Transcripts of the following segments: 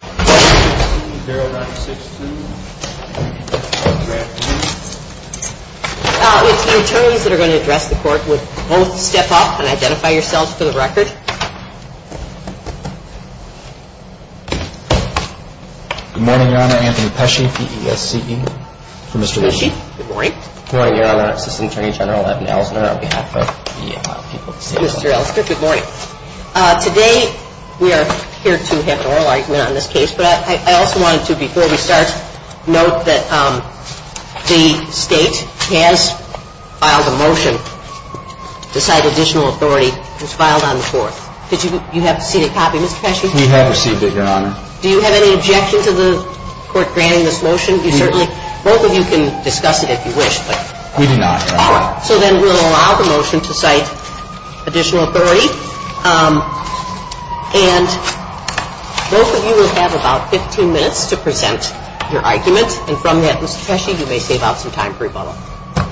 There are not stipulated in the court records. The attorneys that are going to address the court will step off and identify yourselves for the record. Good morning, Your Honor. Anthony Pesci, P.E.S.C. Good morning. Good morning, Your Honor. Assistant Attorney General Evan Ellison, on behalf of the people of Pennsylvania. Good morning. Today, we are here to have an oral argument on this case. But I also wanted to, before we start, note that the state has filed a motion to cite additional authority. It's filed on the court. Do you have a copy, Mr. Pesci? We have received it, Your Honor. Do you have any objection to the court granting this motion? We do. Both of you can discuss it if you wish. We do not. So then we will allow the motion to cite additional authority. And both of you will have about 15 minutes to present your argument. And from that, Mr. Pesci, you may save up some time for rebuttal.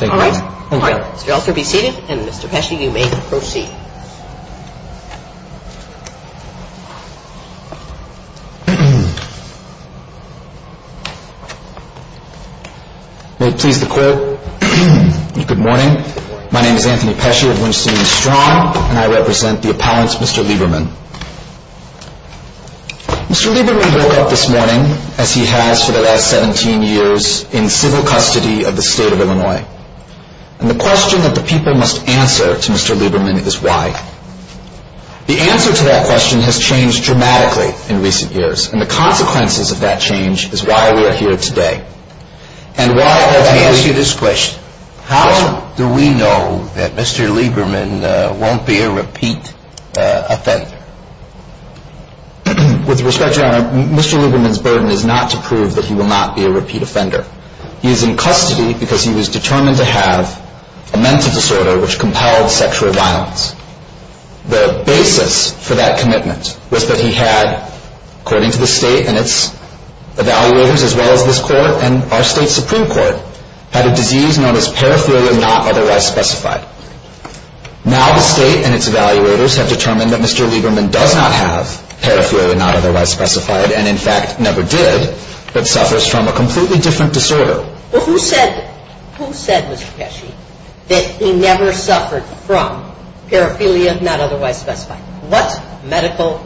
Thank you. You may also be seated, and Mr. Pesci, you may proceed. Please be seated. Will it please the court? Good morning. My name is Anthony Pesci of Winston-Ewing Strong, and I represent the appellant, Mr. Lieberman. Mr. Lieberman rolled out this morning, as he has for the last 17 years, in civil custody of the state of Illinois. And the question that the people must answer to Mr. Lieberman is why. The answer to that question has changed dramatically in recent years. And the consequences of that change is why we are here today. And why, let me ask you this question. How do we know that Mr. Lieberman won't be a repeat offender? With respect, Your Honor, Mr. Lieberman's burden is not to prove that he will not be a repeat offender. He is in custody because he was determined to have a mental disorder which compiled sexual violence. The basis for that commitment was that he had, according to the state and its evaluators, as well as his court, and our state's Supreme Court, had a disease known as peripheral or not otherwise specified. Now the state and its evaluators have determined that Mr. Lieberman does not have peripheral or not otherwise specified, and in fact never did, but suffers from a completely different disorder. But who said, who said, Mr. Pesci, that he never suffered from peripheral or not otherwise specified? What medical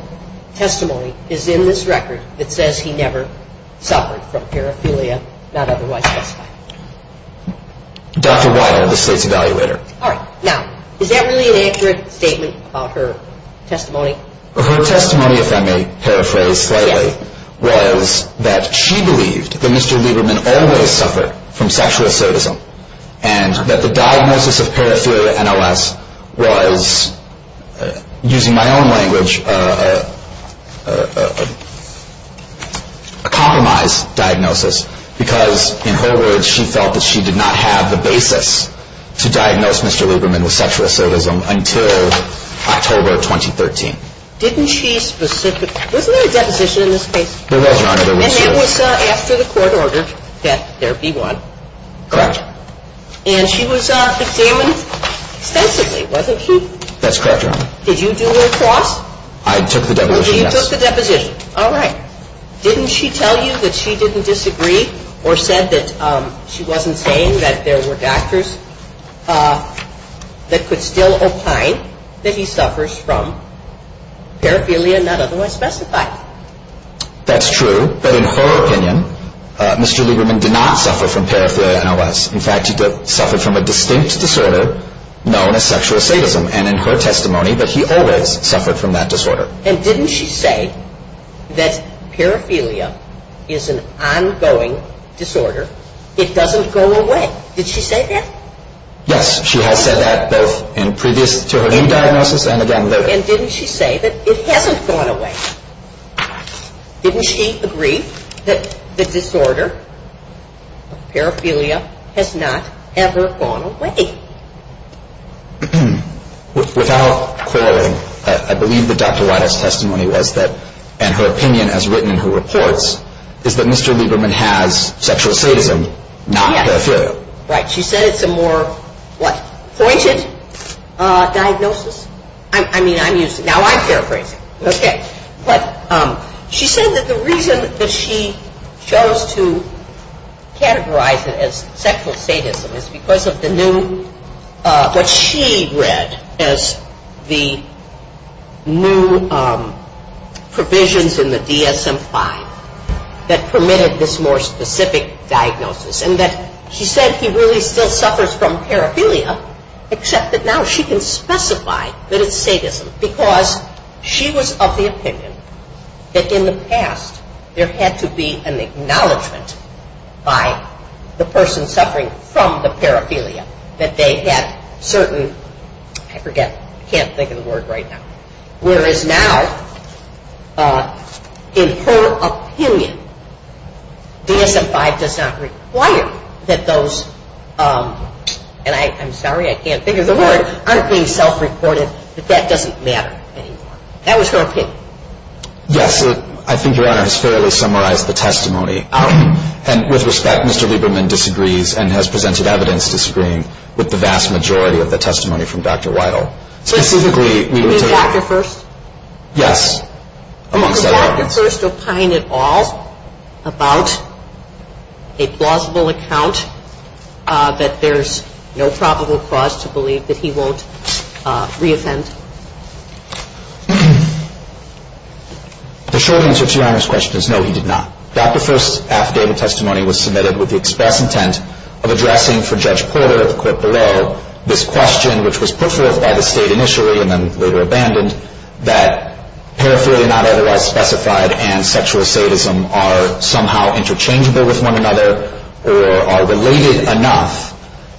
testimony is in this record that says he never suffered from peripheral or not otherwise specified? Dr. Wild, the state's evaluator. All right. Now, is that really an accurate statement of her testimony? Her testimony, if I may paraphrase correctly, was that she believed that Mr. Lieberman always suffered from sexual ascetism, and that the diagnosis of peripheral NLS was, using my own language, a compromised diagnosis, because, in her words, she felt that she did not have the basis to diagnose Mr. Lieberman with sexual ascetism until October of 2013. Didn't she specifically, wasn't there a deposition in this case? There was not in this case. And it was after the court ordered that there be one. Correct. And she was abstaining sensibly, wasn't she? That's correct, Your Honor. Did you do a cross? I took the deposition. You took the deposition. All right. Didn't she tell you that she didn't disagree or said that she wasn't saying that there were factors that could still imply that he suffers from peripheral or not otherwise specified? That's true, but in her opinion, Mr. Lieberman did not suffer from peripheral NLS. In fact, he suffered from a distinct disorder known as sexual ascetism, and in her testimony, that he always suffered from that disorder. And didn't she say that peripheralia is an ongoing disorder? It doesn't go away. Did she say that? Yes, she has said that both in the previous serotonin diagnosis and again later. And didn't she say that it hasn't gone away? Didn't she agree that the disorder, peripheralia, has not ever gone away? Without quarreling, I believe that Dr. Wright's testimony was that, and her opinion as written in her reports, is that Mr. Lieberman has sexual ascetism, not peripheral. Right. She said it's a more, what? Poignant diagnosis. I mean, I'm using... Now I'm paraphrasing. Okay. She said that the reason that she chose to categorize it as sexual ascetism is because of the new, what she read as the new provisions in the DSM-5 that permitted this more specific diagnosis. And that she said he really still suffers from peripheralia, except that now she can specify that it's sadism. Because she was of the opinion that in the past there had to be an acknowledgment by the person suffering from the peripheralia that they had certain, I forget, can't think of the word right now. Whereas now, in her opinion, DSM-5 does not require that those, and I'm sorry I can't figure the word, I'm being self-reported that that doesn't matter anymore. That was her opinion. Yes, I think your Honor has fairly summarized the testimony. And with respect, Mr. Lieberman disagrees and has presented evidence of disagreeing with the vast majority of the testimony from Dr. Weidel. You mean Dr. First? Yes. Did Dr. First opine at all about a plausible account that there's no probable cause to believe that he won't reoffend? The short answer to your Honor's question is no, he did not. Dr. First's affidavit testimony was submitted with the express intent of addressing for Judge Porter at the court below this question, which was put forward by the state initially and then later abandoned, that peripheralia are not otherwise specified and sexual sadism are somehow interchangeable with one another, or are related enough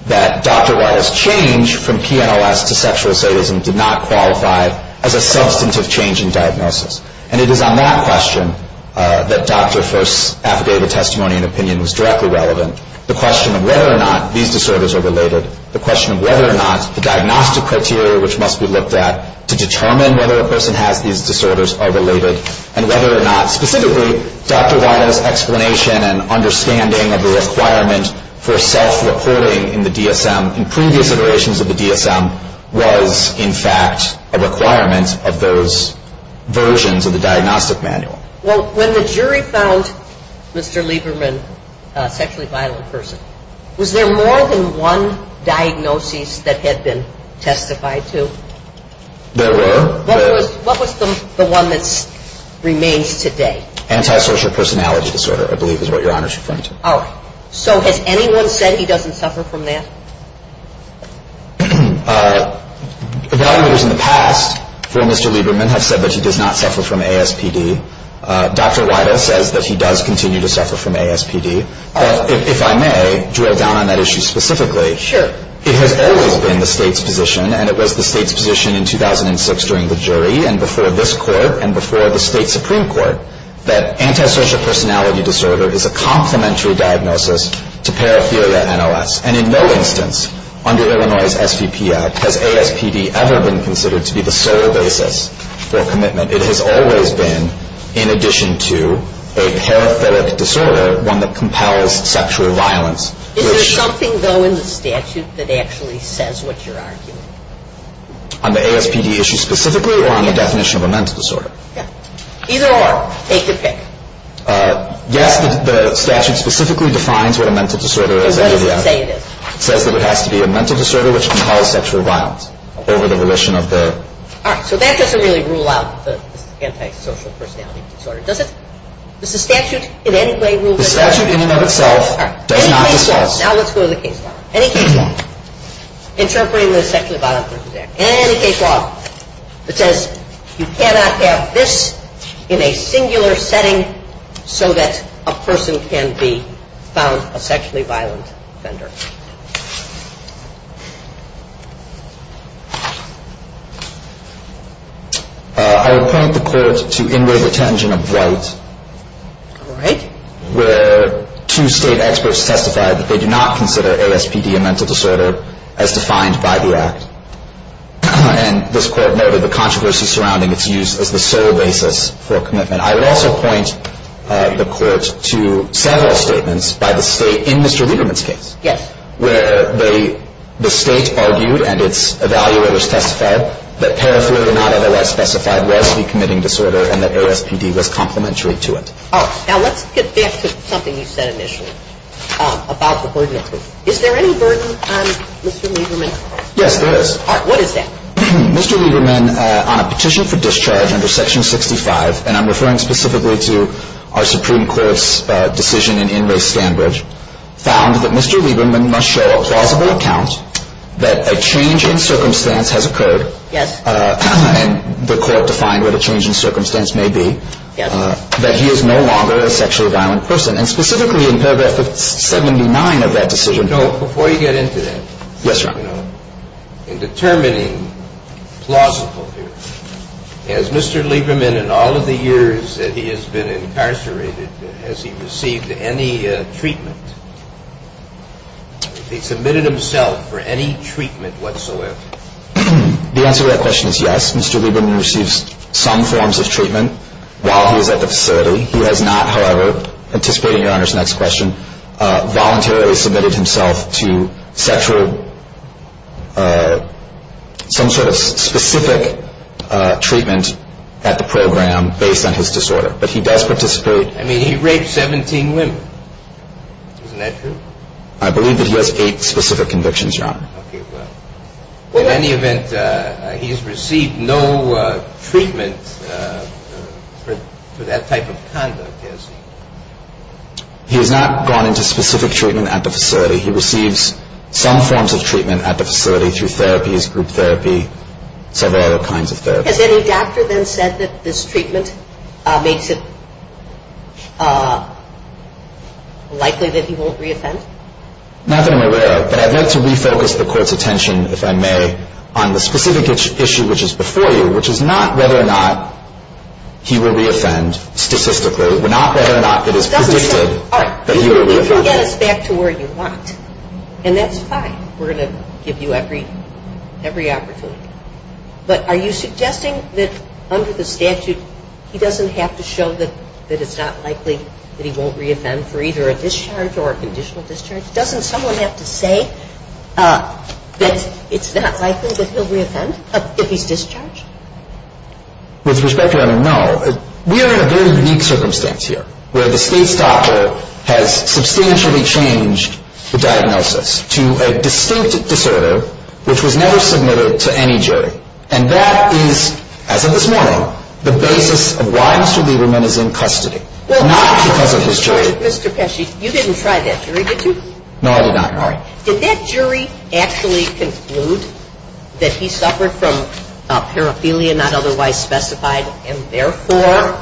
that Dr. Weidel's change from PNLS to sexual sadism did not qualify as a substantive change in diagnosis. And it is on that question that Dr. First's affidavit testimony and opinion was directly relevant. The question of whether or not these disorders are related, the question of whether or not the diagnostic criteria, which must be looked at to determine whether a person has these disorders, are related, and whether or not specifically Dr. Weidel's explanation and understanding of the requirement for a self-reporting in the DSM, was in fact a requirement of those versions of the diagnostic manual. Well, when the jury found Mr. Lieberman a sexually violent person, was there more than one diagnosis that had been testified to? There were. What was the one that remains today? Antisocial personality disorder, I believe is what your Honor's referring to. All right. So has anyone said he doesn't suffer from that? Validators in the past for Mr. Lieberman have said that he does not suffer from ASPD. Dr. Weidel says that he does continue to suffer from ASPD. If I may, drill down on that issue specifically. Sure. It has always been the state's position, and it was the state's position in 2006 during the jury, and before this court, and before the state Supreme Court, that antisocial personality disorder is a complementary diagnosis to paraphilia NLS. And in no instance under Illinois' SCP Act has ASPD ever been considered to be the sole basis for commitment. It has always been, in addition to a paraphilic disorder, one that compels sexual violence. Is there something, though, in the statute that actually says what you're arguing? On the ASPD issue specifically or on the definition of a mental disorder? Either or. Take your pick. Yes, the statute specifically defines what a mental disorder is. It says that it has to be a mental disorder which compels sexual violence over the volition of the... All right. So that doesn't really rule out the antisocial personality disorder, does it? Does the statute in any way rule that out? The statute in and of itself does not. Now let's go to the case law. Any case law interpreting the sexually violent personality disorder. Any case law that says you cannot add this in a singular setting so that a person can be found a sexually violent offender. I would point the court to inward detention of rights. All right. Where two state experts testified that they did not consider ASPD a mental disorder as defined by the act. And this court noted the controversy surrounding its use as the sole basis for commitment. I would also point the court to federal statements by the state in Mr. Riedemann's case. Yes. Where the state argued, and its evaluators testified, that paraphilia did not, nevertheless, specify a relatively committing disorder and that ASPD was complementary to it. All right. Now let's get back to something you said initially about the hoarding system. Is there any burden on Mr. Riedemann? Yes, there is. All right. What is that? Mr. Riedemann, on a petition for discharge under Section 65, and I'm referring specifically to our Supreme Court's decision in Inmate Sandwich, found that Mr. Riedemann must show a plausible account that a change in circumstance has occurred. Yes. The court defined what a change in circumstance may be. Yes. That he is no longer a sexually violent person. And specifically, in fact, that's certainly in the mind of that decision. No, before you get into that. Yes, Your Honor. In determining plausible here, has Mr. Lieberman, in all of the years that he has been incarcerated, has he received any treatment? Has he committed himself for any treatment whatsoever? The answer to that question is yes. Mr. Riedemann receives some forms of treatment while he is at the facility. He has not, however, anticipating Your Honor's next question, voluntarily submitted himself to sexual, some sort of specific treatment at the program based on his disorder. But he does participate. I mean, he raped 17 women. Isn't that true? I believe that he has eight specific convictions, Your Honor. Okay, well. In any event, he has received no treatment for that type of conduct, yes. He has not gone into specific treatment at the facility. He receives some forms of treatment at the facility through therapies, group therapy, several other kinds of therapy. Has any doctor then said that this treatment makes it likely that he won't reoffend? Not that I'm aware of. I'd like to refocus the Court's attention, if I may, on the specific issue which is before you, which is not whether or not he will reoffend statistically, but not whether or not it is predicted that he will reoffend. You can get it back to where you want. And that's fine. We're going to give you every opportunity. But are you suggesting that under the statute he doesn't have to show that it's not likely that he won't reoffend for either a discharge or a conditional discharge? Doesn't someone have to say that it's not likely that he'll reoffend if he's discharged? With respect, Your Honor, no. We are in a very weak circumstance here where the state's doctor has substantially changed the diagnosis to a distinctive disorder which was never submitted to any jury. And that is, as of this morning, the basis of why Mr. Lieberman is in custody, not because of his jury. Mr. Pesci, you didn't try that jury, did you? No, I did not, Your Honor. Did that jury actually conclude that he suffered from paraphilia not otherwise specified, and therefore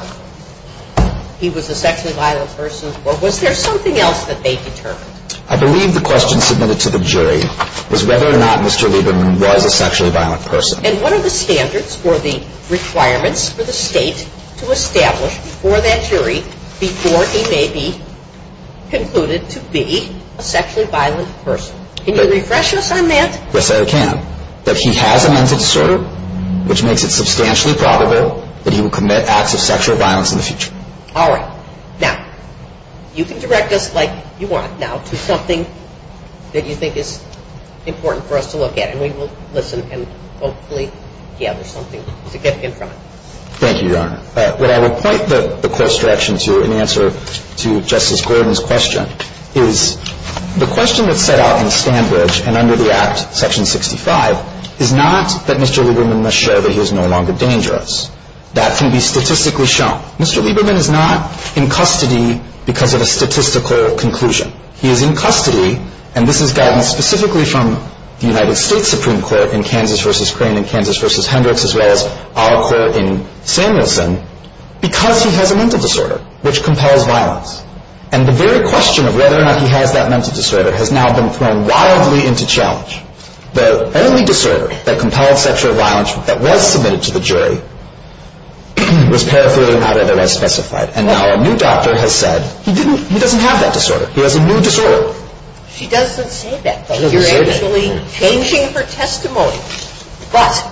he was a sexually violent person, or was there something else that they determined? I believe the question submitted to the jury was whether or not Mr. Lieberman was a sexually violent person. And what are the standards or the requirements for the state to establish for that jury before he may be concluded to be a sexually violent person? Can you refresh us on that? Yes, I can. That he has a mental disorder, which makes it substantially probable that he will commit acts of sexual violence in the future. All right. Now, you can direct us like you want now to something that you think is important for us to look at, and we will listen and hopefully gather something to get in front of us. Thank you, Your Honor. What I would point the court's direction to in answer to Justice Gordon's question is the question that's set out in the standards and under the Act, Section 65, is not that Mr. Lieberman must show that he is no longer dangerous. That can be statistically shown. Mr. Lieberman is not in custody because of a statistical conclusion. He is in custody, and this is found specifically from the United States Supreme Court in Kansas v. Crain and Kansas v. Hendricks, as well as our court in Samuelson, because he has a mental disorder, which compels violence. And the very question of whether or not he has that mental disorder has now been thrown wildly into challenge. The only disorder that compels sexual violence that was submitted to the jury was paraphernalia not otherwise specified. And now a new doctor has said he doesn't have that disorder. He has a new disorder. She doesn't say that. You're actually changing her testimony. But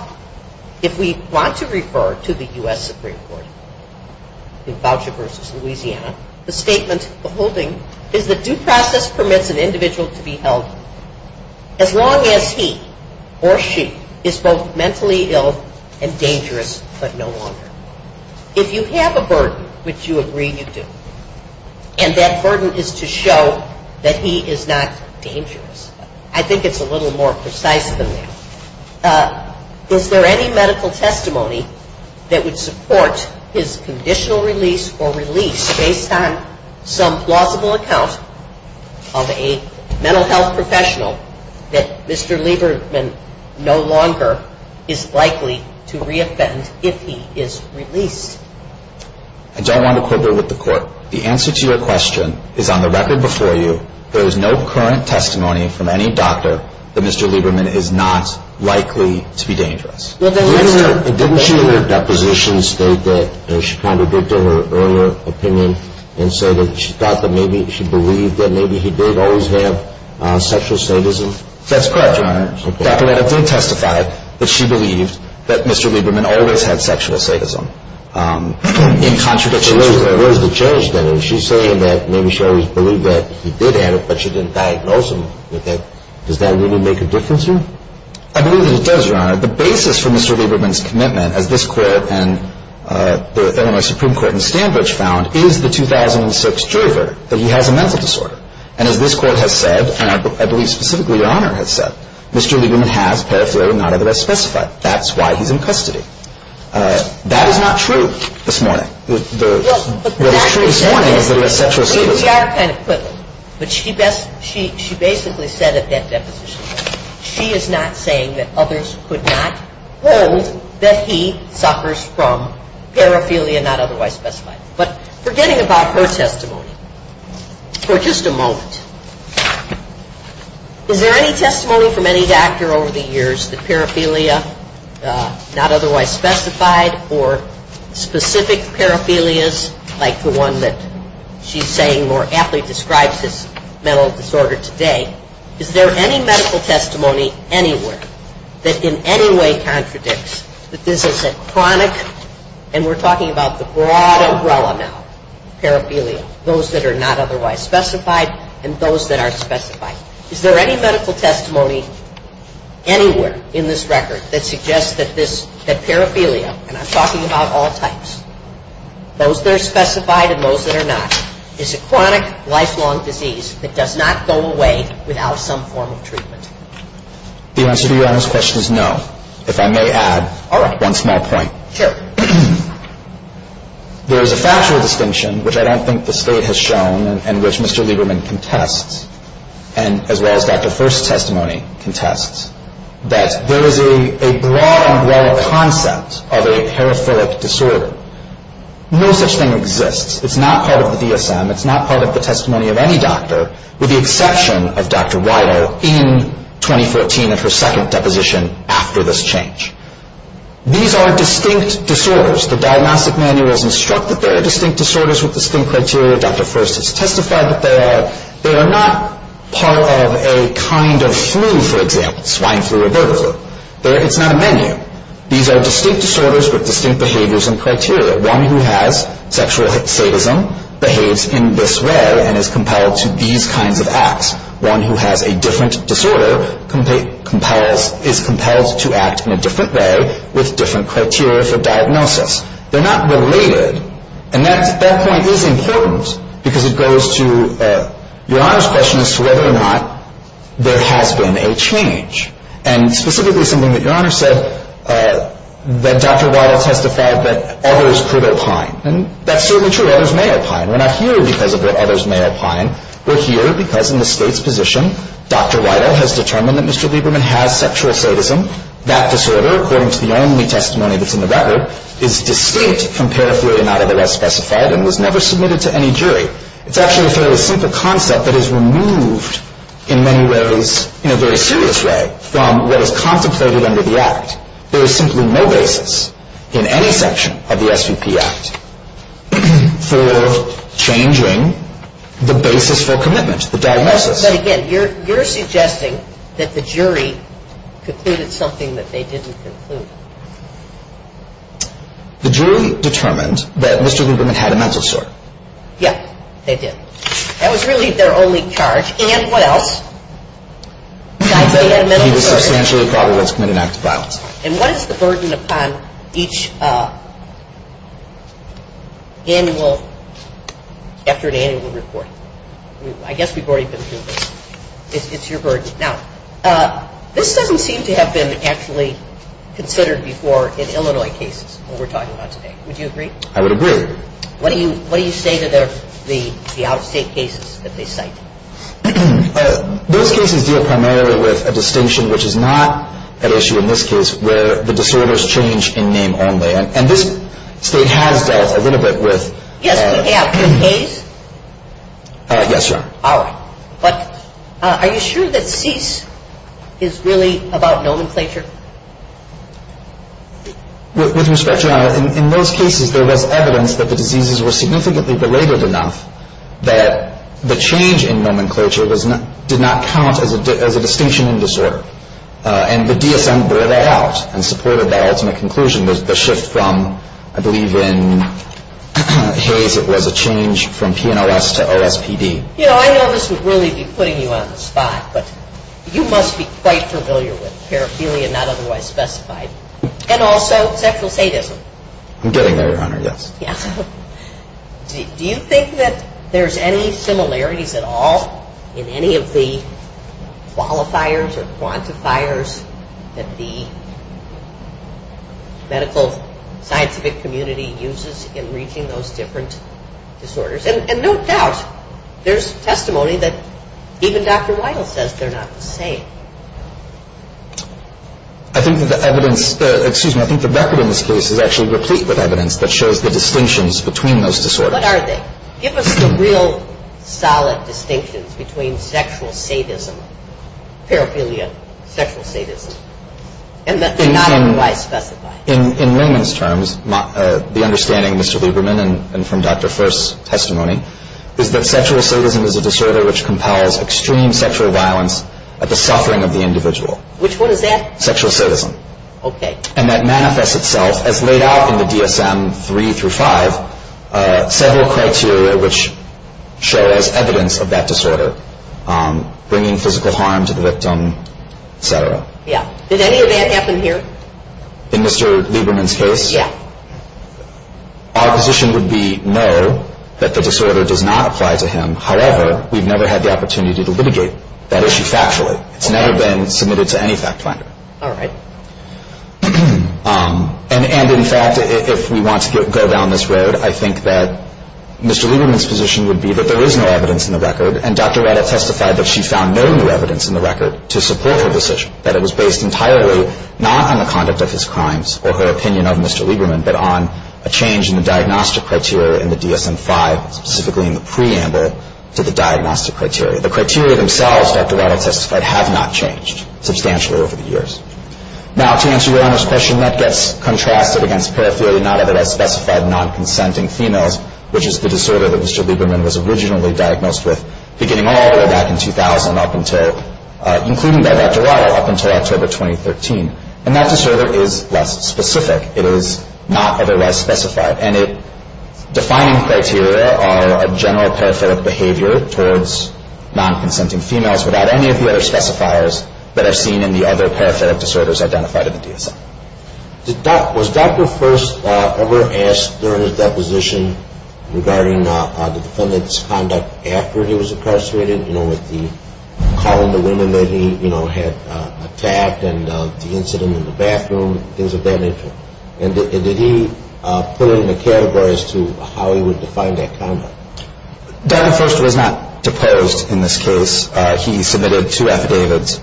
if we want to refer to the U.S. Supreme Court in Boucher v. Louisiana, the statement beholding is that due process permits an individual to be held as long as he or she is both mentally ill and dangerous but no longer. If you have a burden, which you agree you do, and that burden is to show that he is not dangerous, I think it's a little more precise than that. Is there any medical testimony that would support his conditional release or release based on some plausible account of a mental health professional that Mr. Lieberman no longer is likely to reoffend if he is released? I don't want to quibble with the court. The answer to your question is on the record before you, there is no current testimony from any doctor that Mr. Lieberman is not likely to be dangerous. Didn't she in her depositions state that she contradicted her earlier opinion and said that she thought that maybe she believed that maybe he did always have sexual sadism? That's correct, Your Honor. The fact that I did testify that she believed that Mr. Lieberman always had sexual sadism and contradicted her earlier. What does the judge say? Is she saying that maybe she always believed that he did have it but she didn't diagnose him with it? Does that really make a difference to you? I believe it does, Your Honor. The basis for Mr. Lieberman's commitment, as this court and the Illinois Supreme Court in Sandbridge found, is the 2006 jury verdict that he has a mental disorder. And as this court has said, and I believe specifically Your Honor has said, Mr. Lieberman has paraphernalia not otherwise specified. That's why he's in custody. That is not true this morning. Well, the fact is that she basically said that she is not saying that others could not know that he suffers from paraphernalia not otherwise specified. But forgetting about her testimony, for just a moment, is there any testimony from any doctor over the years that paraphernalia not otherwise specified or specific paraphernalias like the one that she's saying more aptly describes his mental disorder today, is there any medical testimony anywhere that in any way contradicts that this is a chronic and we're talking about the broad umbrella now, paraphernalia, those that are not otherwise specified and those that are specified. Is there any medical testimony anywhere in this record that suggests that paraphernalia, and I'm talking about all types, those that are specified and those that are not, is a chronic, lifelong disease that does not go away without some form of treatment? The answer to Your Honor's question is no. If I may add one small point. Sure. There is a factual distinction, which I don't think the state has shown, and which Mr. Lieberman contests, as well as Dr. First's testimony contests, that there is a broad, broad concept of a paraphilic disorder. No such thing exists. It's not part of the DSM. It's not part of the testimony of any doctor, with the exception of Dr. Wallo in 2014 in her second deposition after this change. These are distinct disorders. The Diagnostic Manual has instructed that they are distinct disorders with distinct criteria. Dr. First has testified that they are. They are not part of a kind of flu, for example, swine flu or botulism. It's not a menu. These are distinct disorders with distinct behaviors and criteria. One who has sexual sadism behaves in this way and is compelled to these kinds of acts. One who has a different disorder is compelled to act in a different way with different criteria for diagnosis. They're not related. And that point is important because it goes to Your Honor's question as to whether or not there has been a change. And specifically something that Your Honor says, that Dr. Wallo testified that others could opine. And that's certainly true. Others may opine. We're not here because of what others may opine. We're here because in the State's position, Dr. Wallo has determined that Mr. Lieberman had sexual sadism. That disorder, according to the only testimony before November, is distinct from paraphilia, not otherwise specified, and was never submitted to any jury. It's actually a very simple concept that is removed in many ways in a very serious way from what is compensated under the Act. There is simply no basis in any section of the SUPS for changing the basis for commitment, the diagnosis. But again, you're suggesting that the jury concluded something that they didn't conclude. The jury determined that Mr. Lieberman had a mental disorder. Yes, they did. That was really their only charge. And what else? He was substantially at risk in the next trial. And what is the burden upon each annual, after the annual report? I guess we've already been through this. It's your burden. Now, this doesn't seem to have been actually considered before in Illinois cases, what we're talking about today. Would you agree? I would agree. What do you say to the out-of-state cases that they cite? Those cases deal primarily with a distinction, which is not an issue in this case, where the disorders change in name only. And this state has dealt a little bit with that. Yes, but they have been raised? Yes, sir. All right. But are you sure that cease is really about nomenclature? With respect, Your Honor, in those cases there was evidence that the diseases were significantly belabored enough that the change in nomenclature did not count as a distinction in disorder. And the DSM bore that out in support of the ultimate conclusion was the shift from, I believe in Hayes it was a change from PNOS to OSPD. You know, I know this is really putting you on the spot, but you must be quite familiar with paraphilia, not otherwise specified, and also teplicated. I'm getting there, Your Honor, yes. Do you think that there's any similarities at all in any of the qualifiers or quantifiers that the medical scientific community uses in reaching those different disorders? And no doubt there's testimony that even Dr. Weidel says they're not the same. I think the evidence, excuse me, I think the record in this case is actually replete with evidence that shows the distinctions between those disorders. What are they? Give us the real solid distinctions between sexual sadism, paraphilia, sexual sadism, and that they're not otherwise specified. In layman's terms, the understanding, Mr. Lieberman, and from Dr. First's testimony, is that sexual sadism is a disorder which compels extreme sexual violence at the suffering of the individual. Which one is that? Sexual sadism. Okay. And that manifests itself as laid out in the DSM 3 through 5, several criteria which show as evidence of that disorder, bringing physical harm to the victim, et cetera. Yeah. Did any of that happen here? In Mr. Lieberman's case? Yeah. Our position would be no, that the disorder does not apply to him. However, we've never had the opportunity to litigate that issue factually. It's never been submitted to any fact finder. All right. And in fact, if we want to go down this road, I think that Mr. Lieberman's position would be that there is no evidence in the record, and Dr. Weidel testified that she found no new evidence in the record to support her decision, that it was based entirely not on the conduct of his crimes or her opinion of Mr. Lieberman, but on a change in the diagnostic criteria in the DSM 5, specifically in the preamble to the diagnostic criteria. The criteria themselves, Dr. Weidel testified, have not changed substantially over the years. Now, to answer your own question, that gets contracted against periphery, not evidence specified in non-consenting females, which is the disorder that Mr. Lieberman was originally diagnosed with, beginning all the way back in 2000, including Dr. Weidel, up until October 2013. And that disorder is less specific. It is not otherwise specified, and its defining criteria are a general peripheral behavior towards non-consenting females without any of the other specifiers that are seen in the other peripheral disorders identified in the DSM. Was Dr. First ever asked during his deposition regarding the defendant's conduct after he was incarcerated, you know, with the calling to women that he, you know, had attacked, and the incident in the bathroom, things of that nature? And did he put in the categories to how he would define that conduct? Dr. First was not deposed in this case. He submitted two affidavits,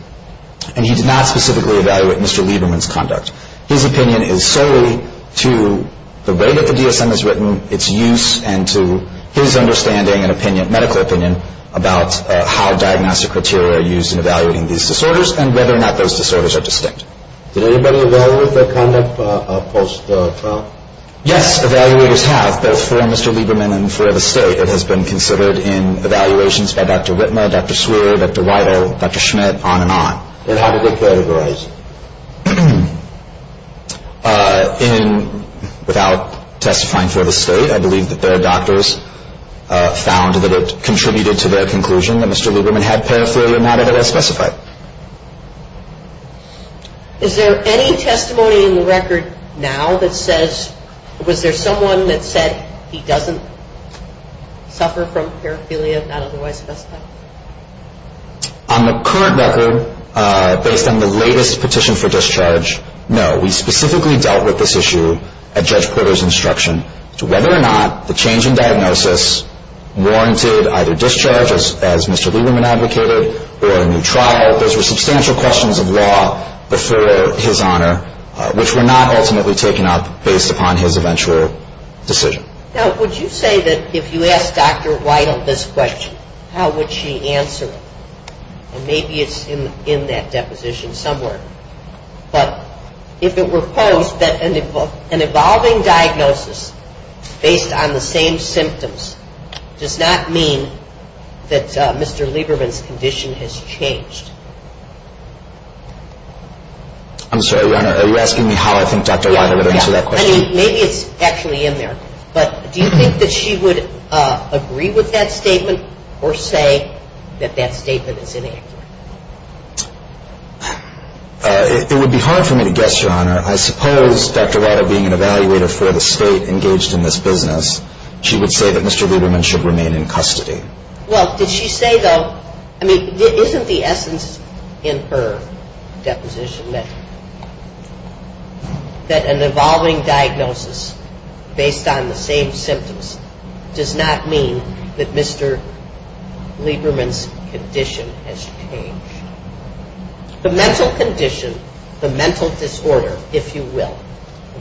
and he did not specifically evaluate Mr. Lieberman's conduct. His opinion is solely to the way that the DSM is written, its use, and to his understanding and opinion, medical opinion, about how diagnostic criteria are used in evaluating these disorders and whether or not those disorders are distinct. Did anybody evaluate that conduct post-trial? Yes, evaluators have, both for Mr. Lieberman and for the state. It has been considered in evaluations by Dr. Whitmer, Dr. Swearer, Dr. Weidel, Dr. Schmidt, on and on. And how did they categorize? In, without testifying for the state, I believe that their doctors found that it contributed to their conclusion that Mr. Lieberman had paraphernalia, not as it was specified. Is there any testimony in the record now that says, was there someone that said he doesn't suffer from paraphernalia as a white male? On the current record, based on the latest petition for discharge, no. We specifically dealt with this issue at Judge Porter's instruction. Whether or not the change in diagnosis warranted either discharge, as Mr. Lieberman advocated, or a new trial, those were substantial questions of law before his honor, which were not ultimately taken up based upon his eventual decision. Now, would you say that if you asked Dr. Weidel this question, how would she answer it? Maybe it's in that deposition somewhere. But if it were found that an evolving diagnosis based on the same symptoms does not mean that Mr. Lieberman's condition has changed. I'm sorry, Your Honor. Are you asking me how I think Dr. Weidel would answer that question? Yeah. I mean, maybe it's actually in there. But do you think that she would agree with that statement or say that that statement is inaccurate? It would be hard for me to guess, Your Honor. I suppose Dr. Weidel being an evaluator for the state engaged in this business, she would say that Mr. Lieberman should remain in custody. Well, did she say, though, I mean, isn't the essence in her deposition that an evolving diagnosis based on the same symptoms does not mean that Mr. Lieberman's condition has changed? The mental condition, the mental disorder, if you will,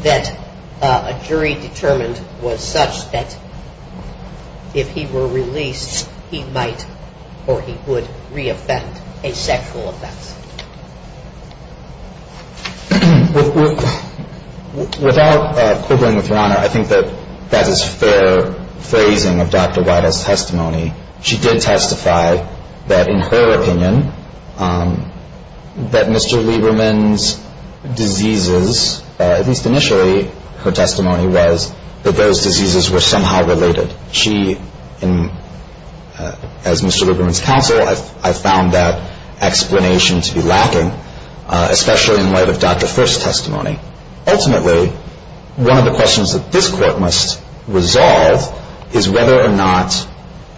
that a jury determined was such that if he were released, he might or he would re-offend, a sexual offender. Without quibbling, Your Honor, I think that that is fair phrasing of Dr. Weidel's testimony. She did testify that, in her opinion, that Mr. Lieberman's diseases, at least initially her testimony was that those diseases were somehow related. She, as Mr. Lieberman's counsel, I found that explanation to be lacking, especially in light of Dr. First's testimony. Ultimately, one of the questions that this court must resolve is whether or not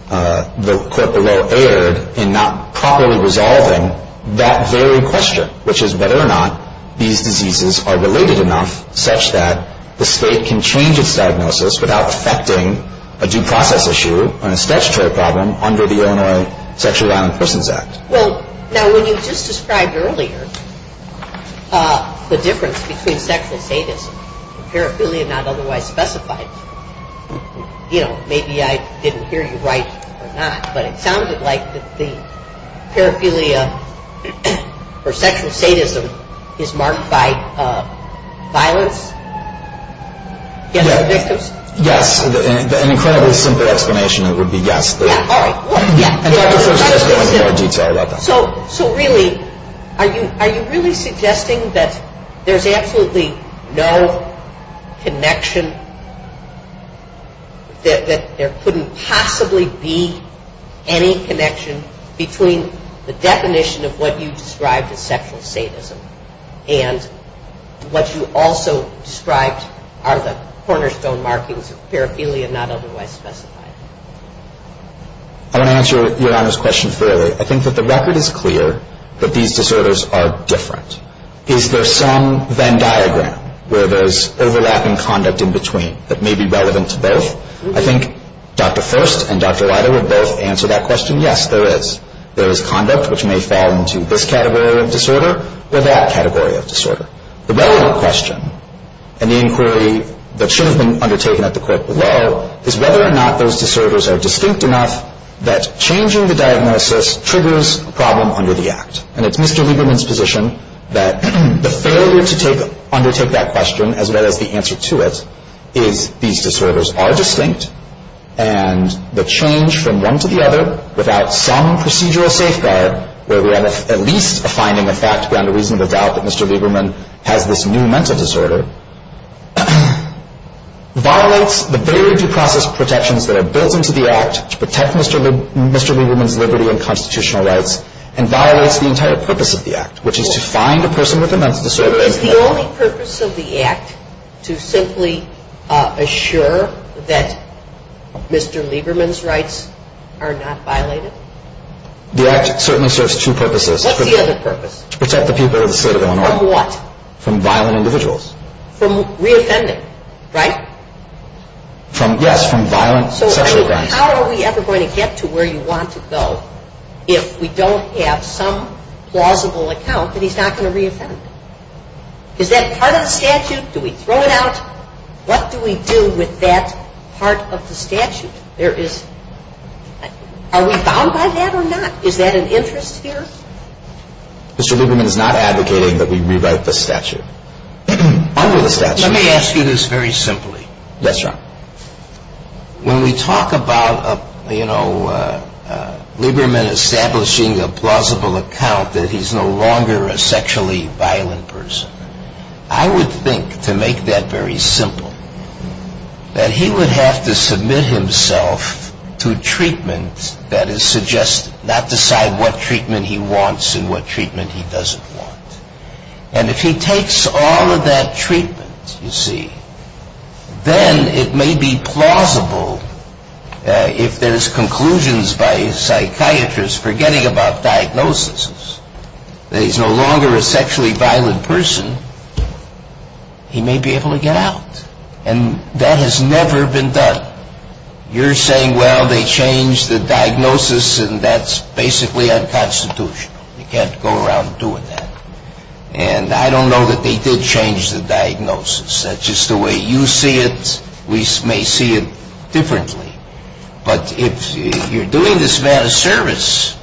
the court, the role aired in not properly resolving that very question, which is whether or not these diseases are related enough such that the state can change its diagnosis without affecting a due process issue or a statutory problem under the Illinois Sexually Violent Persons Act. Well, now, when you just described earlier the difference between sexual sadism and paraphernalia not otherwise specified, you know, maybe I didn't hear you right or not, but it sounded like the paraphernalia for sexual sadism is marked by violence. Is that correct? Yes. An incredibly simple explanation would be yes. I'm sorry about that. So really, are you really suggesting that there's absolutely no connection, that there couldn't possibly be any connection between the definition of what you described as sexual sadism and what you also described are the cornerstone markings of paraphernalia not otherwise specified? I want to answer your honest question fairly. I think that the record is clear that these disorders are different. Is there some Venn diagram where there's overlapping conduct in between that may be relevant to both? I think Dr. First and Dr. Leiter would both answer that question. Yes, there is. There is conduct which may fall into this category of disorder or that category of disorder. The relevant question in the inquiry that should have been undertaken at the court below is whether or not those disorders are distinct enough that changing the diagnosis triggers a problem under the Act. And it's Mr. Lieberman's position that the failure to undertake that question as well as the answer to it is these disorders are distinct and the change from one to the other without some procedural safeguard, where we have at least a finding of facts beyond a reasonable doubt that Mr. Lieberman had this new mental disorder, violates the very due process protections that are built into the Act to protect Mr. Lieberman's liberty and constitutional rights and violates the entire purpose of the Act, which is to find a person with a mental disorder. Is the only purpose of the Act to simply assure that Mr. Lieberman's rights are not violated? The Act certainly serves two purposes. What's the other purpose? To protect the people of the state of Illinois. From what? From violent individuals. From re-offending, right? Yes, from violent sexual offenders. How are we ever going to get to where you want to go if we don't have some plausible account that he's not going to re-offend? Is that part of the statute? Do we throw it out? What do we do with that part of the statute? Are we bound by that or not? Is that an interest here? Mr. Lieberman is not advocating that we revoke the statute. Let me ask you this very simply. Yes, Your Honor. When we talk about Lieberman establishing a plausible account that he's no longer a sexually violent person, I would think, to make that very simple, that he would have to submit himself to treatment that is suggested, not decide what treatment he wants and what treatment he doesn't want. And if he takes all of that treatment, you see, then it may be plausible, if there's conclusions by a psychiatrist forgetting about diagnoses, that he's no longer a sexually violent person, he may be able to get out. And that has never been done. You're saying, well, they changed the diagnosis and that's basically unconstitutional. You can't go around doing that. And I don't know that they did change the diagnosis. That's just the way you see it. We may see it differently. But if you're doing this man a service,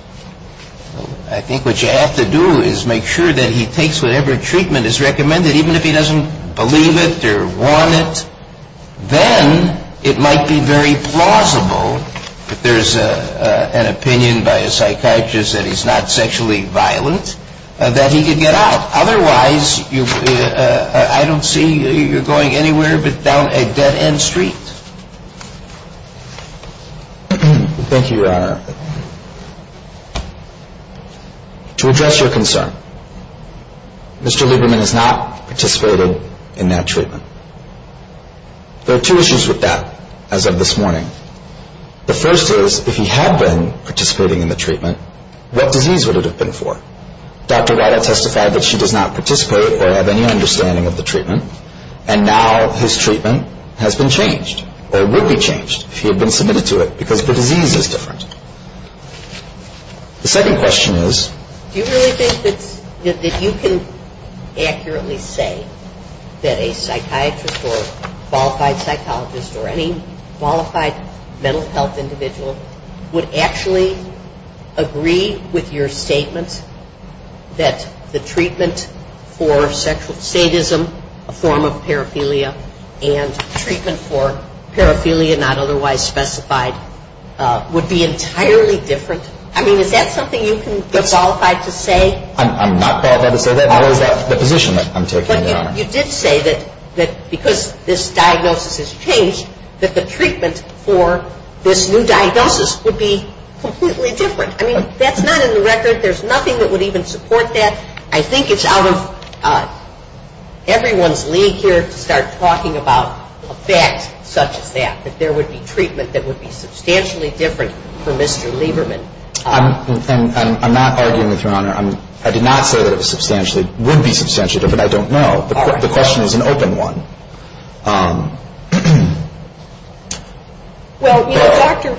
I think what you have to do is make sure that he takes whatever treatment is recommended, even if he doesn't believe it or want it, then it might be very plausible that there's an opinion by a psychiatrist that he's not sexually violent, that he could get out. Otherwise, I don't see you going anywhere but down a dead-end street. Thank you, Your Honor. To address your concern, Mr. Lieberman has not participated in that treatment. There are two issues with that, as of this morning. The first is, if he had been participating in the treatment, what disease would it have been for? Dr. Weiler testified that she does not participate or have any understanding of the treatment, and now his treatment has been changed or would be changed if he had been submitted to it, because the disease is different. The second question is... Do you really think that you can accurately say that a psychiatrist or qualified psychologist or any qualified mental health individual would actually agree with your statement that the treatment for sexual sadism, a form of paraphilia, and treatment for paraphilia not otherwise specified, would be entirely different? I mean, is that something you can be qualified to say? I'm not qualified to say that. You did say that because this diagnosis has changed, that the treatment for this new diagnosis would be completely different. I mean, that's not in the record. There's nothing that would even support that. I think it's out of everyone's league here to start talking about a fact such as that, that there would be treatment that would be substantially different for Mr. Lieberman. I'm not arguing with you, Your Honor. I did not say that it substantially would be substantial, but I don't know. The question is an open one. Well, Dr.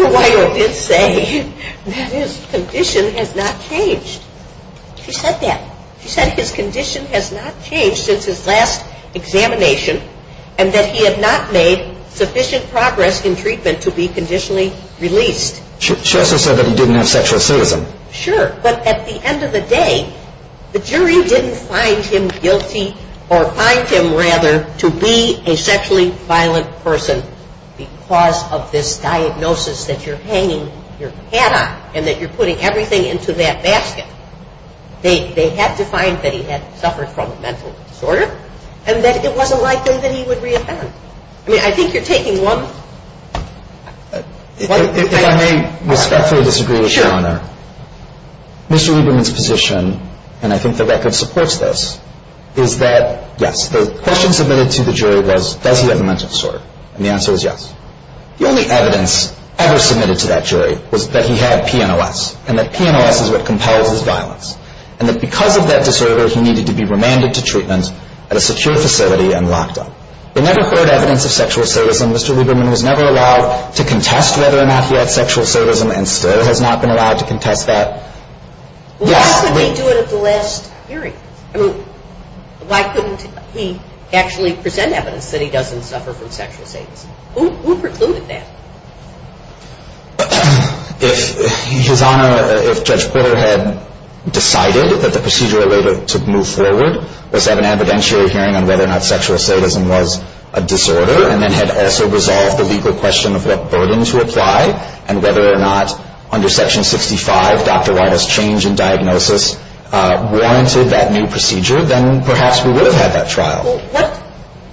Lieberman did say that his condition has not changed. He said that. He said his condition has not changed since his last examination and that he had not made sufficient progress in treatment to be conditionally released. Justice said that he didn't have sexual assault with him. Sure, but at the end of the day, the jury didn't find him guilty, or find him, rather, to be a sexually violent person because of this diagnosis that you're hanging your hat on and that you're putting everything into that basket. They had to find that he had suffered from a mental disorder and that if it wasn't like this, then he would reappear. I mean, I think you're taking lumps. If I may respectfully disagree with you, Your Honor, Mr. Lieberman's position, and I think the record supports this, is that, yes, the question submitted to the jury was, does he have a mental disorder? And the answer was yes. The only evidence ever submitted to that jury was that he had PNLS and that PNLS is what compels his diagnosis and that because of that disorder, he needed to be remanded to treatment at a secure facility and locked up. There never occurred evidence of sexual assault with him. Mr. Lieberman was never allowed to contest whether or not he had sexual assault with him and still has not been allowed to contest that. Why couldn't he do it at the last hearing? I mean, why couldn't he actually present evidence that he doesn't suffer from sexual assault? Who precluded that? If, Your Honor, if Judge Porter had decided that the procedure to move forward was to have an evidentiary hearing on whether or not sexual assault with him was a disorder and then had also resolved the legal question of what burden to apply and whether or not under Section 65, Dr. Wiley's change in diagnosis, warranted that new procedure, then perhaps we would have that trial.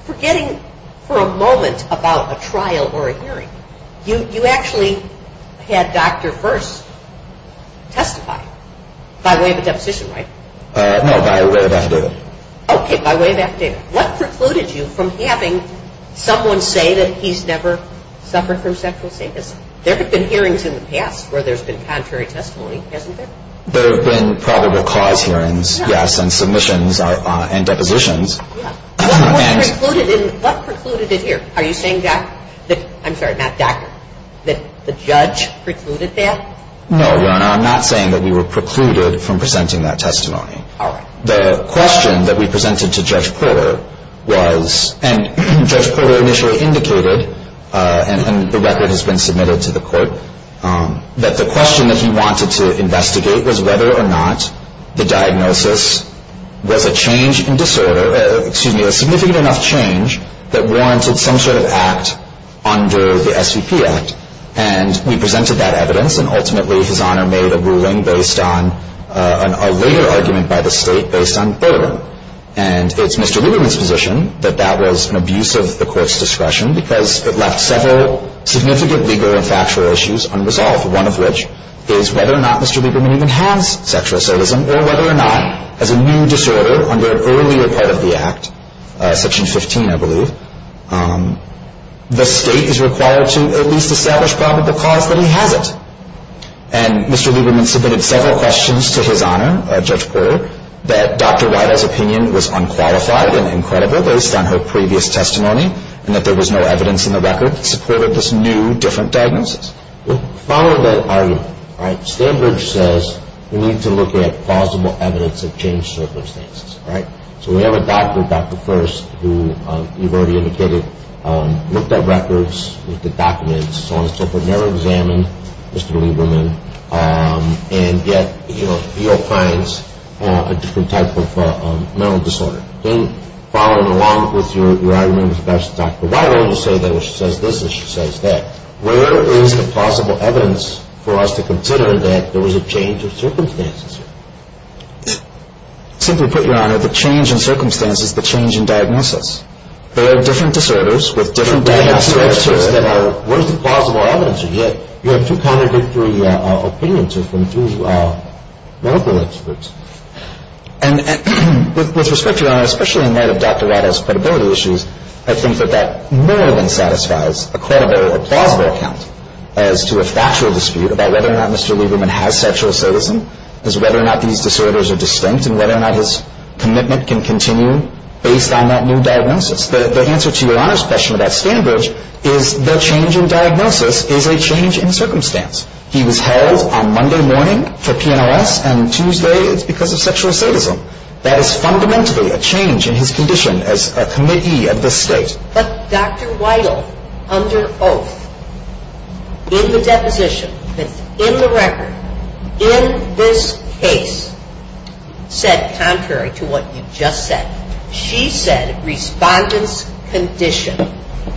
Forgetting for a moment about a trial or a hearing, you actually had Dr. Hurst testify by way of a deposition, right? No, by way of that statement. Okay, by way of that statement. What precluded you from having someone say that he's never suffered from sexual assault with him? There have been hearings in the past where there's been contrary testimony, hasn't there? There have been probable cause hearings, yes, and submissions and depositions. What precluded it here? Are you saying, Matt, that the judge precluded that? No, Your Honor, I'm not saying that we were precluded from presenting that testimony. The question that we presented to Judge Porter was, and Judge Porter initially indicated, and the record has been submitted to the court, that the question that he wanted to investigate was whether or not the diagnosis was a change in disorder, excuse me, a significant enough change that warranted some sort of act under the SCP Act. And we presented that evidence, and ultimately His Honor made a ruling based on a later argument by the state based on further. And it's Mr. Lieberman's position that that was an abuse of the court's discretion because it left several significant legal and factual issues unresolved, one of which is whether or not Mr. Lieberman even has sexual assault with him or whether or not, as a new disorder under an earlier part of the Act, Section 15, I believe, the state is required to at least establish probable cause that he had it. And Mr. Lieberman submitted several questions to his Honor, Judge Porter, that Dr. Weidel's opinion was unqualified and incredible based on her previous testimony and that there was no evidence in the record to prove that this new, different diagnosis. We followed that argument. All right? Standards says we need to look at plausible evidence of changed circumstances. All right? So we have a doctor, Dr. Furst, who we've already indicated looked at records, looked at documents, so on and so forth, never examined Mr. Lieberman, and yet, you know, he all finds a different type of mental disorder. Then, following along with your argument with Dr. Weidel, you say that what she says this is what she says that. Where is the plausible evidence for us to consider that there was a change of circumstances? Simply put, Your Honor, the change in circumstances is the change in diagnosis. There are different disorders with different diagnoses that are worth the plausible evidence, and yet, you have two contradictory opinions between two medical experts. And with respect, Your Honor, especially in light of Dr. Weidel's credibility issues, I think that that more than satisfies a plausible account as to a factual dispute about whether or not Mr. Lieberman has sexual assaultism, as whether or not these disorders are distinct, and whether or not his commitment can continue based on that new diagnosis. But the answer to Your Honor's question about standards is the change in diagnosis is a change in circumstance. He was held on Monday morning for TIS, and Tuesday, it's because of sexual assaultism. That is fundamentally a change in his condition as a committee of the state. But Dr. Weidel, under oath, in the deposition, in the record, in this case, said contrary to what you just said, she said respondent's condition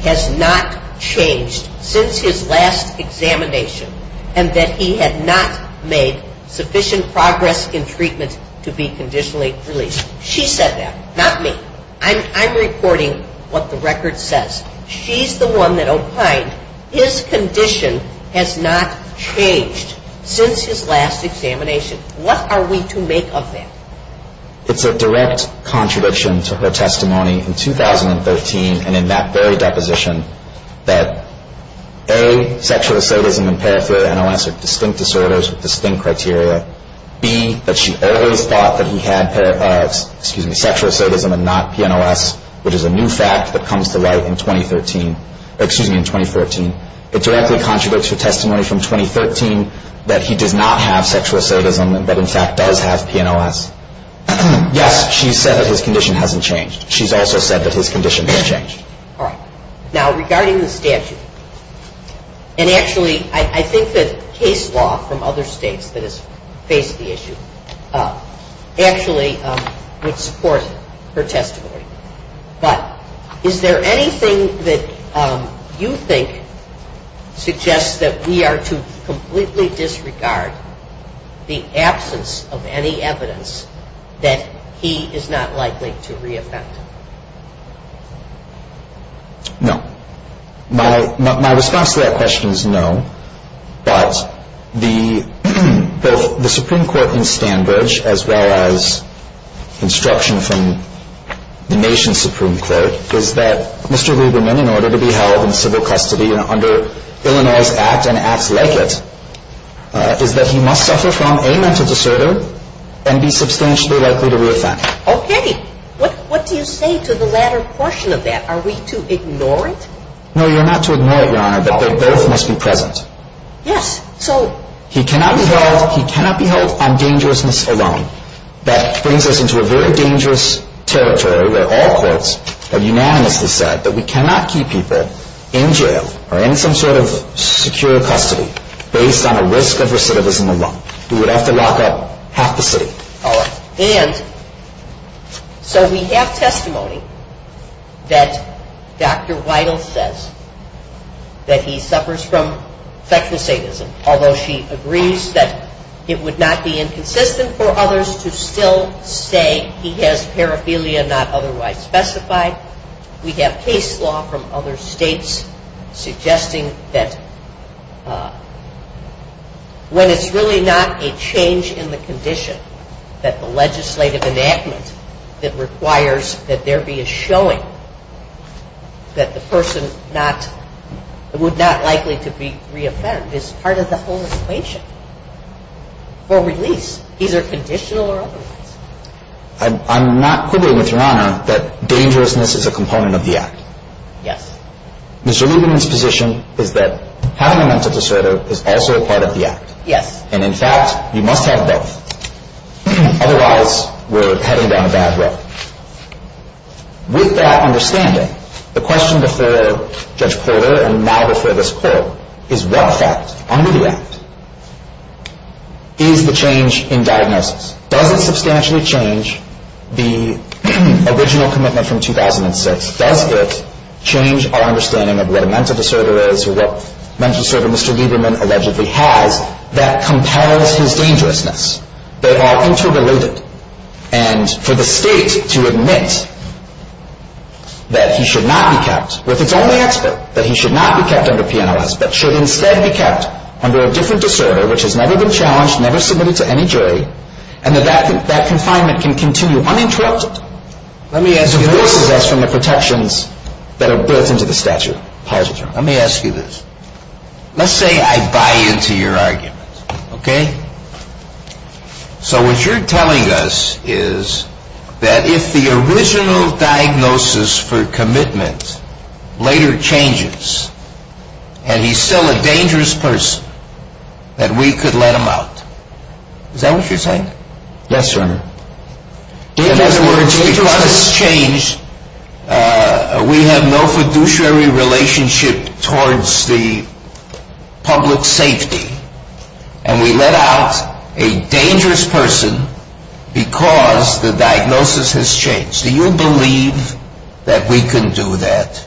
has not changed since his last examination, and that he had not made sufficient progress in treatment to be conditionally released. She said that, not me. I'm reporting what the record says. She's the one that opined his condition has not changed since his last examination. What are we to make of that? It's a direct contradiction to her testimony in 2013, and in that very deposition, that A, sexual assaultism and paraphernalia are distinct disorders with distinct criteria. B, that she earlier thought that he had sexual assaultism and not PNLS, which is a new fact that comes to light in 2014. It directly contradicts her testimony from 2013 that he did not have sexual assaultism, but in fact does have PNLS. Yes, she said his condition hasn't changed. She's also said that his condition has changed. Now, regarding the statute, and actually, I think that case law from other states that has faced the issue actually would support her testimony. But, is there anything that you think suggests that we are to completely disregard the absence of any evidence that he is not likely to re-offend? No. My response to that question is no, but the Supreme Court's standards, as well as instructions from the nation's Supreme Court, is that Mr. Lieberman, in order to be held in civil custody under Illinois' Act and Act Legit, is that he must suffer from a mental disorder and be substantially likely to re-offend. Okay. What do you say to the latter portion of that? Are we to ignore it? No, you're not to ignore it, Your Honor, but their verdict must be present. Yes, so... He cannot be held on dangerousness alone. That brings us into a very dangerous territory where all courts have unanimously said that we cannot keep people in jail or in some sort of secure custody based on a risk of recidivism alone. We would have to lock up half the city. All right. And so we have testimony that Dr. Weidel says that he suffers from sexual sadism, although she agrees that it would not be inconsistent for others to still say he has paraphernalia not otherwise specified. We have case law from other states suggesting that when it's really not a change in the condition that the legislative enactment that requires that there be a showing that the person would not likely to be re-offended, it's part of the whole equation for release, either conditional or otherwise. I'm not quibbling with Your Honor that dangerousness is a component of the Act. Yes. Mr. Lieberman's position is that having a mental disorder is also a part of the Act. Yes. And, in fact, you must have both. Otherwise, we're heading down a bad road. With that understanding, the question before Judge Kohler and now before this Court is what effect under the Act is the change in diagnosis? Does it substantially change the original commitment from 2006? Does it change our understanding of what a mental disorder is or what mental disorder Mr. Lieberman allegedly has? That comparison dangerousness. They are interrelated. And for the State to admit that he should not be kept, with its own expert, that he should not be kept under penalized, that should instead be kept under a different disorder which has never been challenged, never submitted to any jury, and that confinement can continue uninterrupted. Let me add to the original question of protections that are built into the statute. Let me ask you this. Let's say I buy into your argument. Okay? So what you're telling us is that if the original diagnosis for commitment later changes and he's still a dangerous person, that we could let him out. Is that what you're saying? Yes, Your Honor. If, as it were, the original diagnosis changed, we have no fiduciary relationship towards the public safety, and we let out a dangerous person because the diagnosis has changed. Do you believe that we can do that?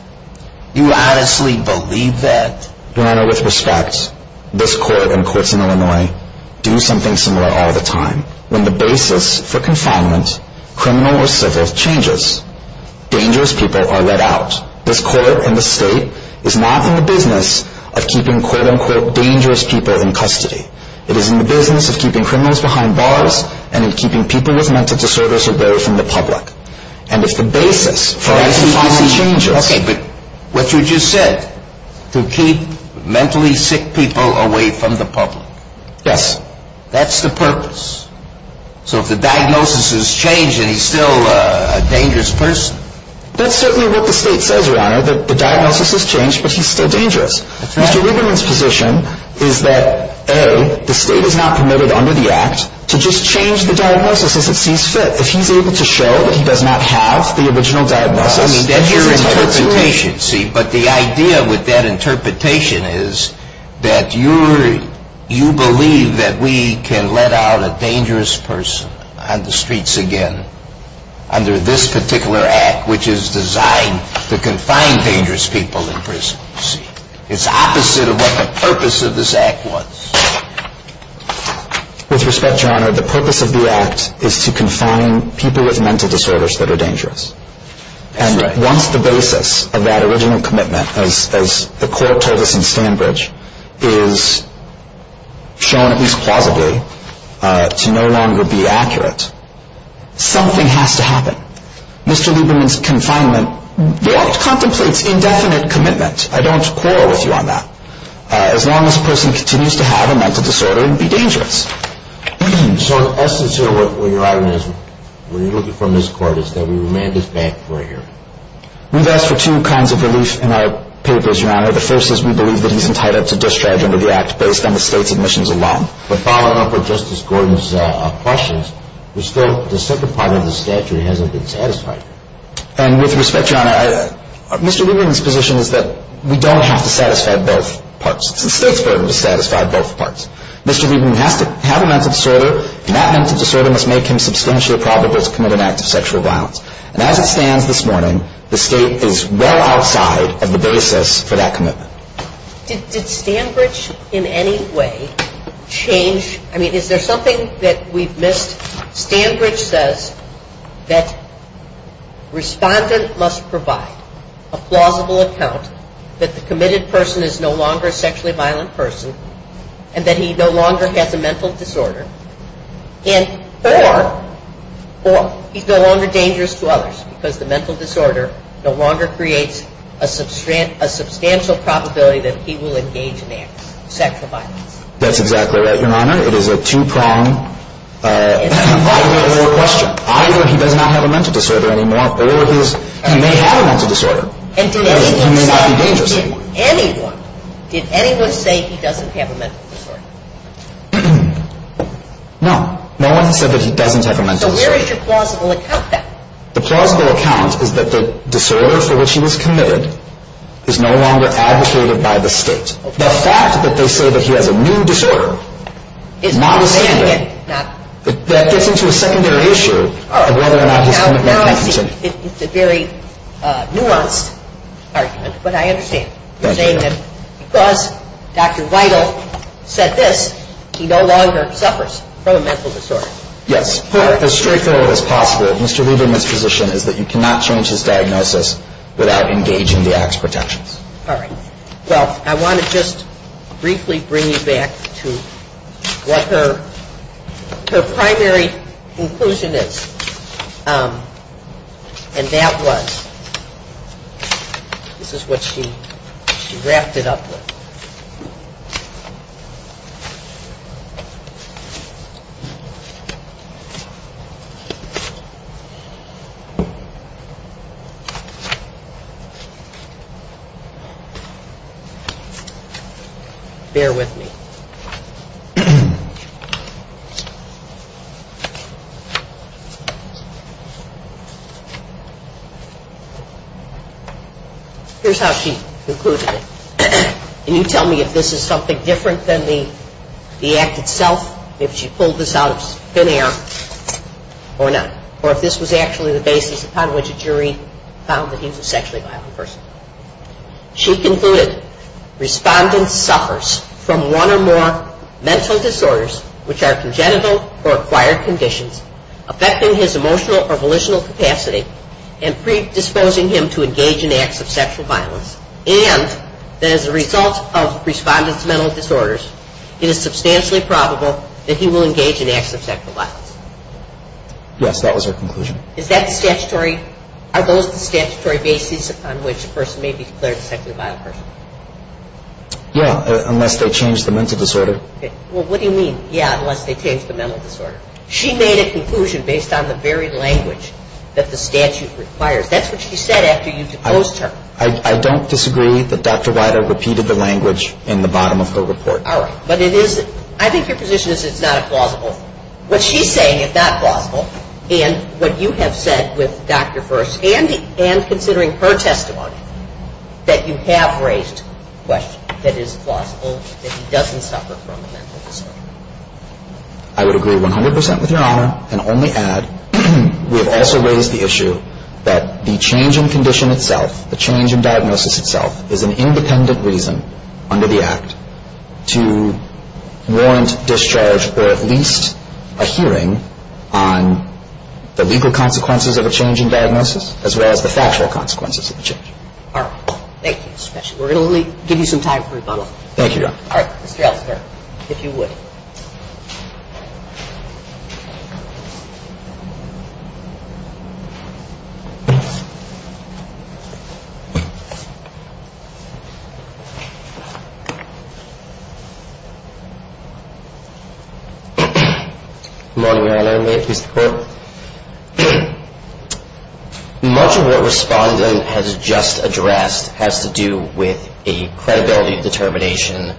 Do you honestly believe that? Your Honor, with respect, this court and the courts in Illinois do something similar all the time. When the basis for confinement, criminal or civil, changes, dangerous people are let out. This court and the state is not in the business of keeping, quote-unquote, dangerous people in custody. It is in the business of keeping criminals behind bars and is keeping people with mental disorders away from the public. And it's the basis for any kind of change. Okay, but what you just said, to keep mentally sick people away from the public, yes, that's the purpose. So if the diagnosis has changed and he's still a dangerous person, that's certainly what the state says, Your Honor, that the diagnosis has changed, but he's still dangerous. Mr. Lieberman's position is that, A, the state is not permitted under the Act to just change the diagnosis if it seems fit. If he's able to show that he does not have the original diagnosis, But the idea with that interpretation is that you believe that we can let out a dangerous person on the streets again under this particular Act, which is designed to confine dangerous people in prison. It's the opposite of what the purpose of this Act was. With respect, Your Honor, the purpose of the Act is to confine people with mental disorders that are dangerous. And once the basis of that original commitment, as the court told us in Sandbridge, is shown, at least plausibly, to no longer be accurate, something has to happen. Mr. Lieberman's confinement, that's concomitant indefinite commitment. I don't quarrel with you on that. As long as the person continues to have a mental disorder, he'll be dangerous. So, as to where you're at when you're looking for a miscord, it's that we remained at that for a year. We've asked for two kinds of relief in our papers, Your Honor. The first is we believe that he's entitled to discharge under the Act based on his state's admissions alone. But following up with Justice Gordon's questions, the second part of the statute hasn't been satisfied. And with respect, Your Honor, Mr. Lieberman's position is that we don't have to satisfy both parts. The statutes don't have to satisfy both parts. Mr. Lieberman had a mental disorder, and that mental disorder must make him substantially probable to commit an act of sexual violence. And as it stands this morning, the state is well outside of the basis for that commitment. Did Sandbridge in any way change, I mean, is there something that we've missed? Sandbridge says that respondents must provide a plausible account that the committed person is no longer a sexually violent person and that he no longer has a mental disorder, and furthermore, he's no longer dangerous to others because the mental disorder no longer creates a substantial probability that he will engage in an act of sexual violence. That's exactly right, Your Honor. It is a two-pronged question. Either he does not have a mental disorder anymore, or he may have a mental disorder. Did anyone say he doesn't have a mental disorder? No. No one said that he doesn't have a mental disorder. So where is your plausible account then? The plausible account is that the disorder for which he was committed is no longer adversated by the state. The fact that they say that he has a new disorder is not the same thing. That gets into a secondary issue of whether or not he has a mental disorder. It's a very nuanced argument, but I understand. You're saying that because Dr. Weidel said this, he no longer suffers from a mental disorder. Yes. As straightforward as possible, Mr. Rubin's position is that you cannot change his diagnosis without engaging the acts of protection. All right. Well, I want to just briefly bring you back to what her primary conclusion is. And that was, this is what she wrapped it up with. Bear with me. Here's how she concluded it. Can you tell me if this is something different than the act itself, if she pulled this out of thin air or not? Or if this was actually the basis on which a jury found that he was a sexually violent person. She concluded, respondent suffers from one or more mental disorders which are congenital or acquired conditions affecting his emotional or volitional capacity and predisposing him to engage in acts of sexual violence. And that as a result of respondent's mental disorders, it is substantially probable that he will engage in acts of sexual violence. Yes, that was her conclusion. Is that a statutory basis on which a person may be declared a sexually violent person? Yeah, unless they change the mental disorder. Well, what do you mean, yeah, unless they change the mental disorder? She made a conclusion based on the very language that the statute requires. That's what she said after you proposed to her. I don't disagree that Dr. Weider repeated the language in the bottom of her report. All right. But it is, I think your position is it's not plausible. What she's saying is it's not plausible, and what you have said with Dr. Burst and considering her testimony, that you have raised questions that it is plausible that he doesn't suffer from a mental disorder. I would agree 100% with your honor and only add we have also raised the issue that the change in condition itself, the change in diagnosis itself is an independent reason under the Act to warrant discharge for at least a hearing on the legal consequences of a change in diagnosis as well as the factual consequences of the change. All right. Thank you. We're going to give you some time for rebuttal. Thank you, Your Honor. All right. Get out of here, if you would. Good morning, Your Honor. Thank you for... Much of what Respondent has just addressed has to do with a credibility determination,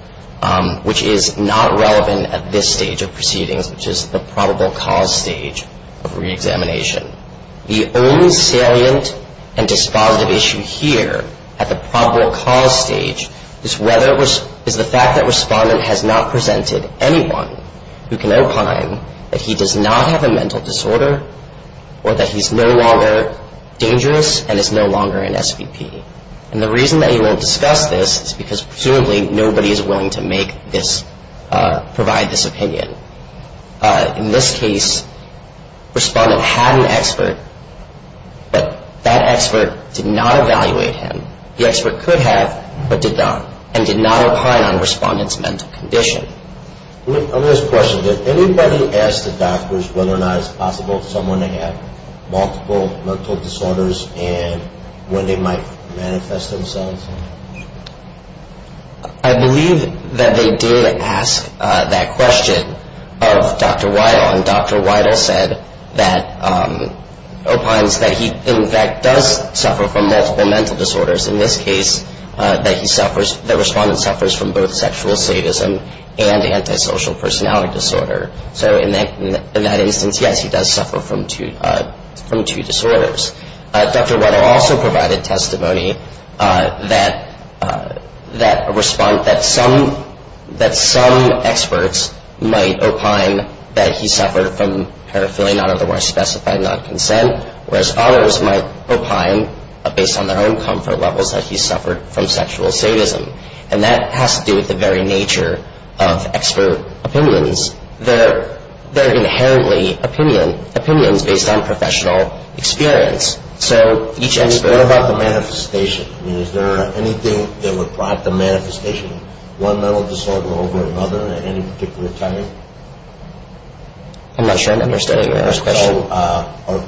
which is not relevant at this stage of proceedings, which is the probable cause stage of reexamination. The only salient and disconsolation here at the probable cause stage is the fact that Respondent has not presented anyone who can imply that he does not have a mental disorder or that he's no longer dangerous and is no longer an SVP. And the reason that he won't discuss this is because presumably nobody is willing to provide this opinion. In this case, Respondent had an expert, but that expert did not evaluate him. The expert could have, but did not, and did not opine on Respondent's mental condition. Let me ask a question. Did anybody ask the doctors whether or not it's possible someone may have multiple mental disorders and when they might manifest themselves? I believe that they did ask that question of Dr. Weidel, and Dr. Weidel said that he, in fact, does suffer from multiple mental disorders. In this case, that Respondent suffers from both sexual slavism and antisocial personality disorder. So in that instance, yes, he does suffer from two disorders. Dr. Weidel also provided testimony that a response that some experts might opine that he suffered from pedophilia, not otherwise specified non-consent, whereas others might opine, based on their own comfort levels, that he suffered from sexual sadism. And that has to do with the very nature of expert opinions. They're inherently opinions based on professional experience. So each expert about the manifestation. Is there anything that would plot the manifestation of one mental disorder over another at any particular time? I'm not sure I understand your question.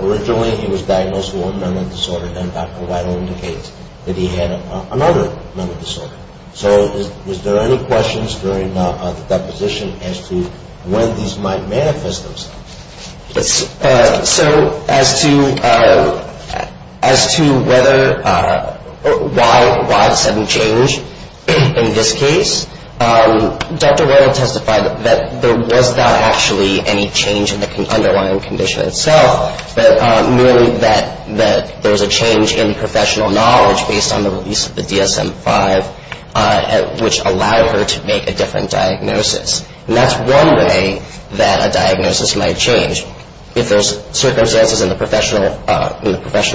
Originally, he was diagnosed with one mental disorder, then Dr. Weidel indicated that he had another mental disorder. So is there any questions during that position as to when these might manifest themselves? So as to whether or why this hadn't changed in this case, Dr. Weidel testified that there was not actually any change in the underlying condition itself, meaning that there was a change in professional knowledge based on the release of the DSM-5, which allowed her to make a different diagnosis. And that's one way that a diagnosis might change. If there's circumstances in the professional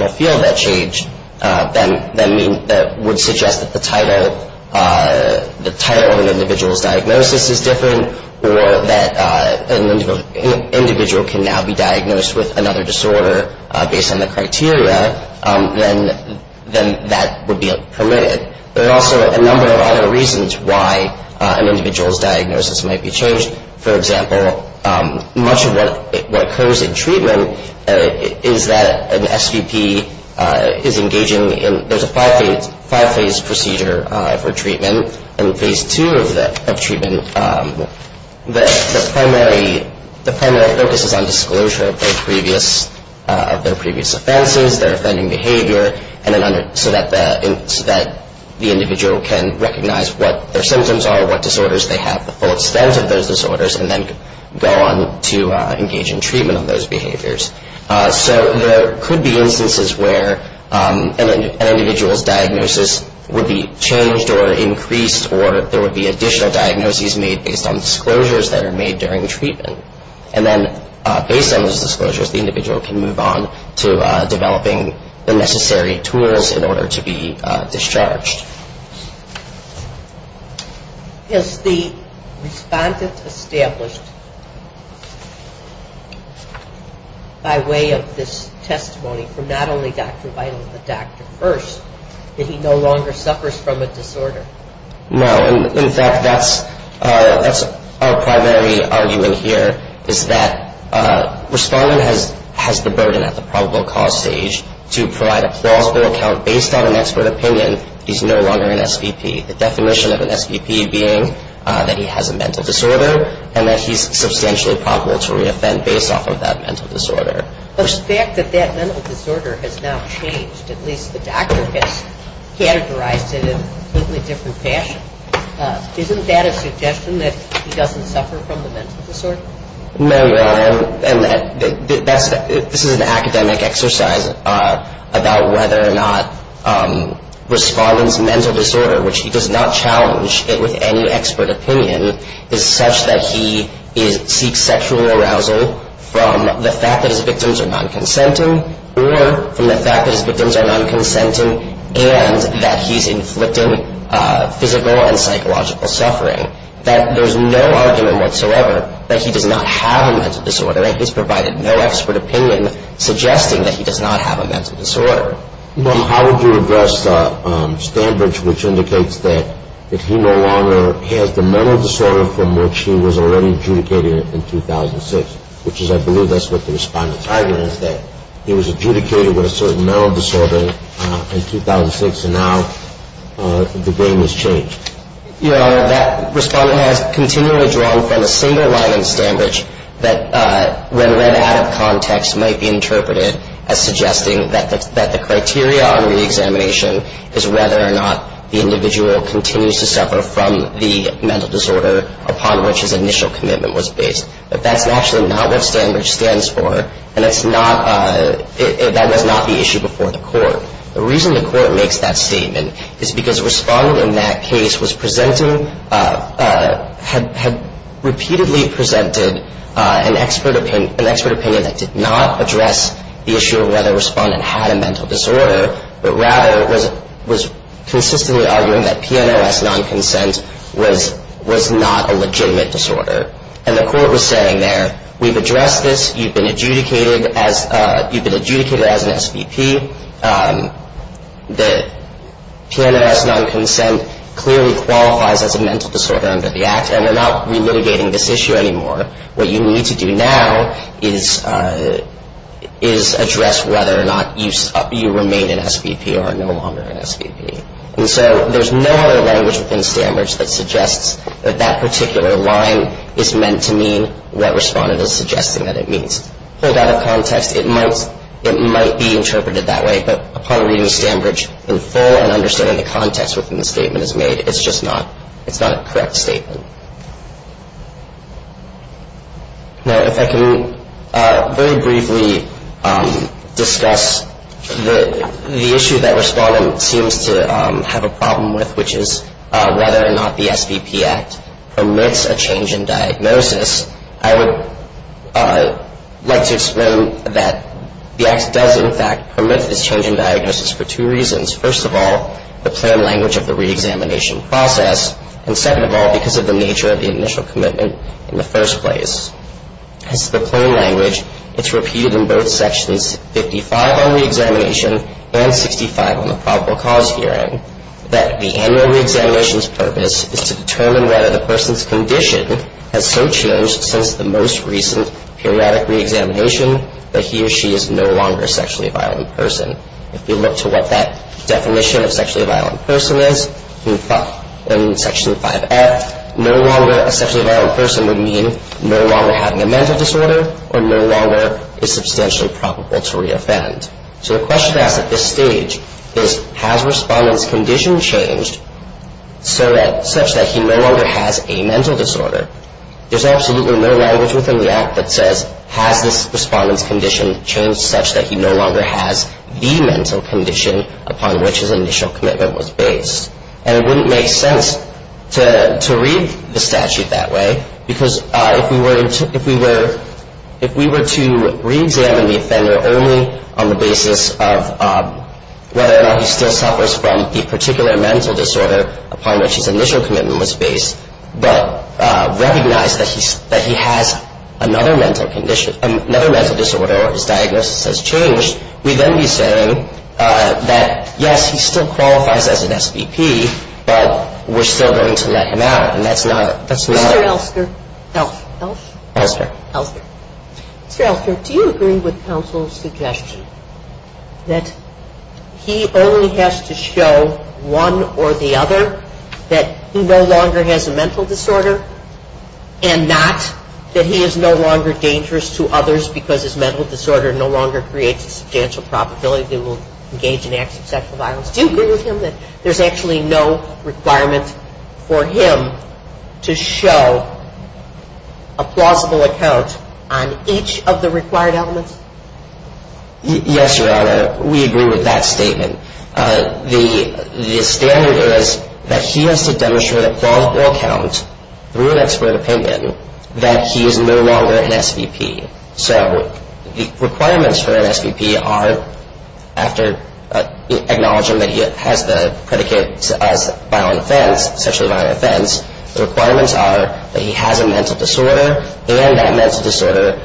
field that change, then that would suggest that the title of an individual's diagnosis is different or that an individual can now be diagnosed with another disorder based on the criteria, then that would be permitted. There are also a number of other reasons why an individual's diagnosis might be changed. For example, much of what occurs in treatment is that an STP is engaging in There's a five-phase procedure for treatment. In phase two of treatment, the primary focus is on disclosure of their previous offenses, their offending behavior, so that the individual can recognize what their symptoms are, what disorders they have, the full extent of those disorders, and then go on to engage in treatment of those behaviors. So there could be instances where an individual's diagnosis would be changed or increased or there would be additional diagnoses made based on disclosures that are made during treatment. And then based on those disclosures, the individual can move on to developing the necessary tools in order to be discharged. Is the respondent established by way of this testimony from not only Dr. Biden but Dr. Birx that he no longer suffers from a disorder? No. In fact, that's our primary argument here is that a respondent has the burden at the probable cause stage to provide a plausible account based on an expert opinion he's no longer an STP, the definition of an STP being that he has a mental disorder and that he's substantially probable to re-offend based off of that mental disorder. So the fact that that mental disorder has now changed, at least the doctor has categorized it in a completely different fashion, isn't that a suggestion that he doesn't suffer from a mental disorder? No, and this is an academic exercise about whether or not a respondent's mental disorder, which he does not challenge it with any expert opinion, is such that he seeks sexual arousal from the fact that his victims are non-consenting or from the fact that his victims are non-consenting and that he's inflicting physical and psychological suffering. That there's no argument whatsoever that he does not have a mental disorder and he's provided no expert opinion suggesting that he does not have a mental disorder. How did you address Stambridge, which indicates that he no longer has the mental disorder from which he was already adjudicated in 2006, which is I believe that's what the respondent's argument is, that he was adjudicated with a certain mental disorder in 2006 and now the game has changed. Your Honor, that respondent has continually drawn from a single line in Stambridge that when read out of context might be interpreted as suggesting that the criteria on reexamination is whether or not the individual continues to suffer from the mental disorder upon which his initial commitment was based, but that's actually not what Stambridge stands for The reason the court makes that statement is because a respondent in that case had repeatedly presented an expert opinion that did not address the issue of whether a respondent had a mental disorder, but rather was consistently arguing that PMS non-consent was not a legitimate disorder. And the court was saying there, we've addressed this, you've been adjudicated as an SBP, that PMS non-consent clearly qualifies as a mental disorder under the Act and they're not re-litigating this issue anymore. What you need to do now is address whether or not you remain an SBP or are no longer an SBP. And so there's no other language within Stambridge that suggests that that particular line is meant to mean what a respondent is suggesting that it means. So it's out of context, it might be interpreted that way, but upon reading Stambridge in full and understanding the context within the statement is made, it's just not a correct statement. If I can very briefly discuss the issue that respondent seems to have a problem with, which is whether or not the SBP Act permits a change in diagnosis, I would like to explain that the Act does in fact permit the change in diagnosis for two reasons. First of all, the plain language of the re-examination process, and second of all, because of the nature of the initial commitment in the first place. It's the plain language that's repeated in both sections, 55 on re-examination and 55 on the probable cause hearing, that the annual re-examination's purpose is to determine whether the person's condition has so changed since the most recent periodic re-examination that he or she is no longer a sexually violent person. If you look to what that definition of sexually violent person is in Section 5F, no longer a sexually violent person would mean no longer having a mental disorder or no longer is substantially probable to re-offend. So the question at this stage is, has respondent's condition changed such that he no longer has a mental disorder? There's absolutely no language within the Act that says, has this respondent's condition changed such that he no longer has the mental condition upon which his initial commitment was based? And it wouldn't make sense to read the statute that way, because if we were to re-examine the offender only on the basis of whether or not he still suffers from a particular mental disorder upon which his initial commitment was based, but recognize that he has another mental disorder or his diagnosis has changed, we then be saying that, yes, he still qualifies as an SBP, but we're still going to let him out, and that's not what we want. Dr. Elster, do you agree with counsel's suggestion that he only has to show one or the other that he no longer has a mental disorder and not that he is no longer dangerous to others because his mental disorder no longer creates a substantial probability that he will engage in acts of sexual violence? Do you agree with him that there's actually no requirement for him to show a plausible account on each of the required elements? Yes, Your Honor, we agree with that statement. The standard is that he has to demonstrate a plausible account through an expert opinion that he is no longer an SBP. So the requirements for an SBP are, after acknowledging that he has the predicate of violent offense, especially violent offense, the requirements are that he has a mental disorder and that mental disorder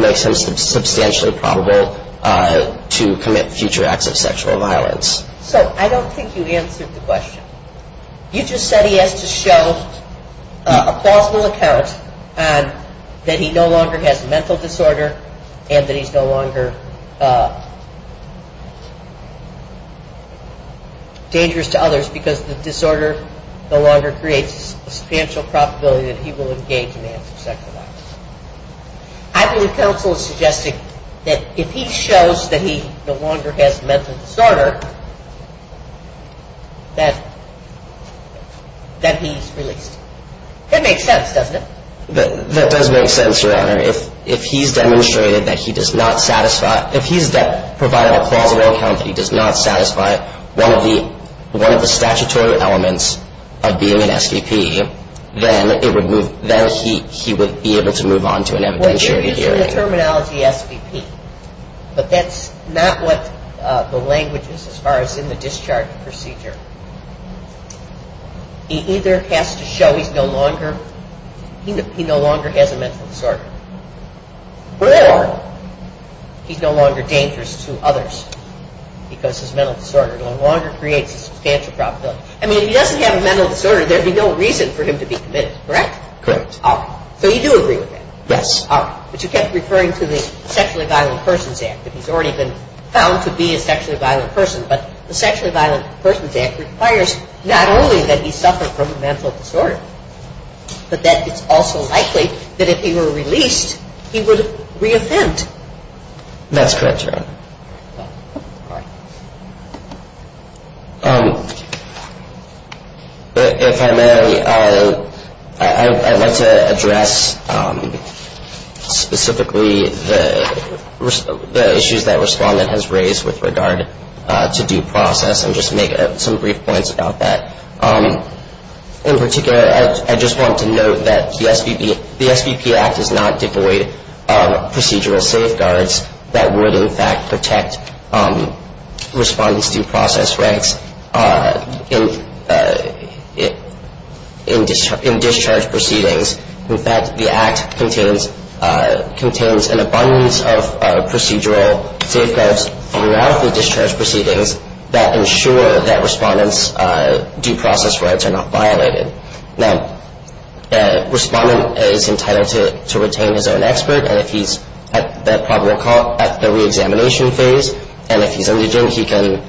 makes him substantially probable to commit future acts of sexual violence. So I don't think you answered the question. You just said he has to show a plausible account that he no longer has a mental disorder and that he's no longer dangerous to others because the disorder no longer creates a substantial probability that he will engage in acts of sexual violence. I think the counsel suggested that if he shows that he no longer has a mental disorder, that he's really dangerous. That makes sense, doesn't it? That does make sense, Your Honor. If he's demonstrated that he does not satisfy, if he's demonstrated that he does not satisfy one of the statutory elements of being an SBP, then he would be able to move on to an evidentiary hearing. The terminology SBP. But that's not what the language is as far as in the discharge procedure. He either has to show he no longer has a mental disorder or he's no longer dangerous to others because his mental disorder no longer creates a substantial probability. I mean, if he doesn't have a mental disorder, there'd be no reason for him to be convinced, correct? Correct. So you do agree with that? Yes. But you kept referring to the Sexual Violence in Persons Act. He's already been found to be a sexually violent person. But the Sexual Violence in Persons Act requires not only that he suffer from a mental disorder, but that it's also likely that if he were released, he would re-assent. That's correct, Your Honor. If I may, I'd like to address specifically the issues that Respondent has raised with regard to due process and just make some brief points about that. In particular, I just want to note that the SBP Act does not devoid procedural safeguards that would, in fact, protect Respondent's due process rights in discharge proceedings. In fact, the Act contains an abundance of procedural safeguards throughout the discharge proceedings that ensure that Respondent's due process rights are not violated. Now, Respondent is entitled to retain his own expert at the re-examination phase, and if he doesn't, he can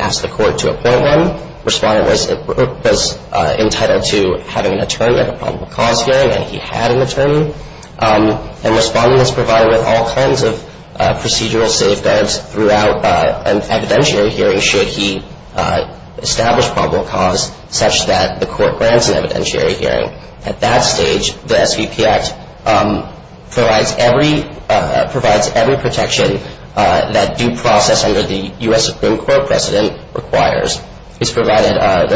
ask the court to appoint one. Respondent was entitled to have an attorney at a probable cause hearing, and he had an attorney. And Respondent was provided with all kinds of procedural safeguards throughout an evidentiary hearing to ensure he established probable cause such that the court grants an evidentiary hearing. At that stage, the SBP Act provides every protection that due process under the U.S. Supreme Court precedent requires. It's provided a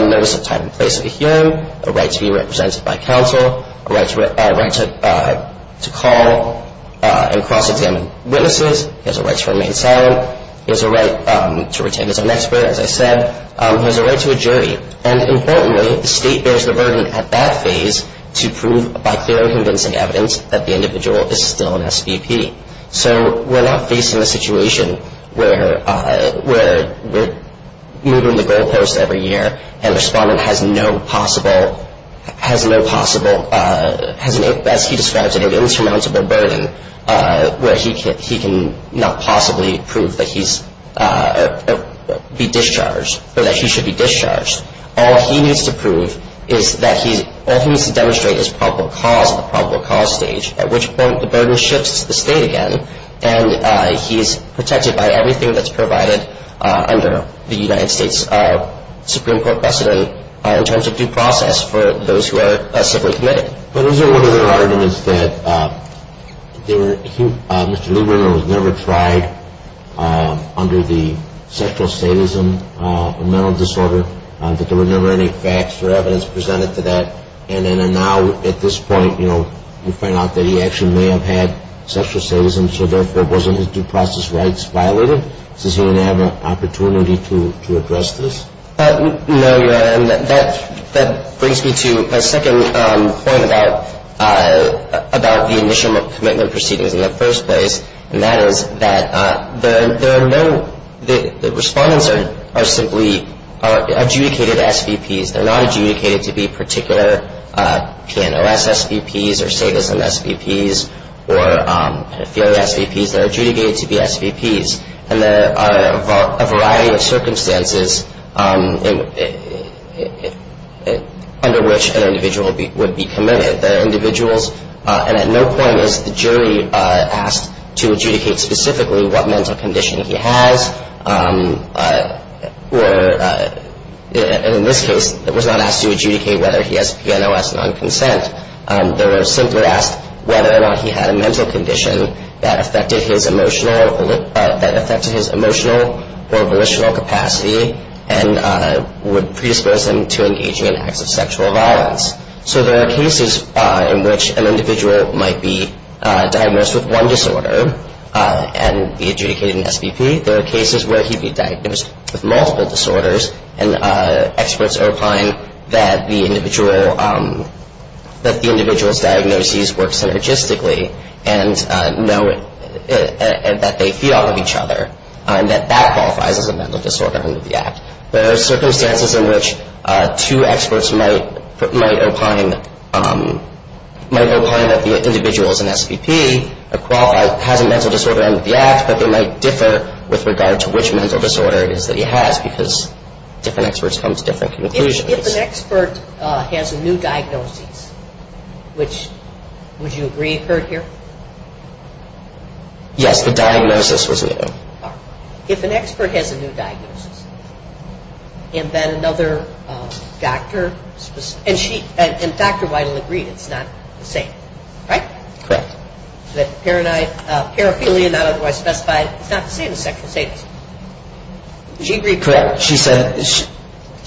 notice of time and place of the hearing, a right to be represented by counsel, a right to call and prosecute witnesses, he has a right to remain silent, he has a right to retain his own expert, as I said, he has a right to a jury. And importantly, the state bears the burden at that stage to prove by fairly convincing evidence that the individual is still an SBP. So we're not facing a situation where we're moving the goalpost every year and Respondent has no possible, as he describes it, an insurmountable burden where he can not possibly prove that he should be discharged. All he needs to prove is that all he needs to demonstrate is probable cause at the probable cause stage, at which point the burden shifts to the state again, and he's protected by everything that's provided under the United States Supreme Court precedent in terms of due process for those who are SBP. Those are arguments that Mr. Lieberman has never tried under the sexual statism of mental disorder, that there were never any facts or evidence presented to that, and then now at this point, you know, you point out that he actually may have had sexual statism, so therefore it wasn't his due process rights violated. Does he have an opportunity to address this? No, Your Honor. That brings me to my second point about the initial commitment proceeding in the first place, and that is that the Respondents are simply adjudicated SBPs. They're not adjudicated to be particular PNOS SBPs or statism SBPs or theory SBPs. They're adjudicated to be SBPs, and there are a variety of circumstances under which an individual would be committed. There are individuals, and at no point is the jury asked to adjudicate specifically what mental condition he has, or in this case, it was not asked to adjudicate whether he has PNOS non-consent. They were simply asked whether or not he had a mental condition that affected his emotional or volitional capacity and would predispose him to engaging in acts of sexual violence. So there are cases in which an individual might be diagnosed with one disorder and be adjudicated an SBP. There are cases where he'd be diagnosed with multiple disorders, and experts are finding that the individual's diagnoses work synergistically and that they feel of each other, and that that qualifies as a mental disorder under the Act. There are circumstances in which two experts might opine that the individual is an SBP, have a mental disorder under the Act, but they might differ with regard to which mental disorders that he has because different experts come to different conclusions. If an expert has a new diagnosis, would you agree with her here? Yes, the diagnosis was new. If an expert has a new diagnosis, and then another doctor... And Dr. Weidel agreed that it's not the same, right? Correct. That paraphernalia, not otherwise specified, is not the same as sexual statement. Did she agree with that? Correct.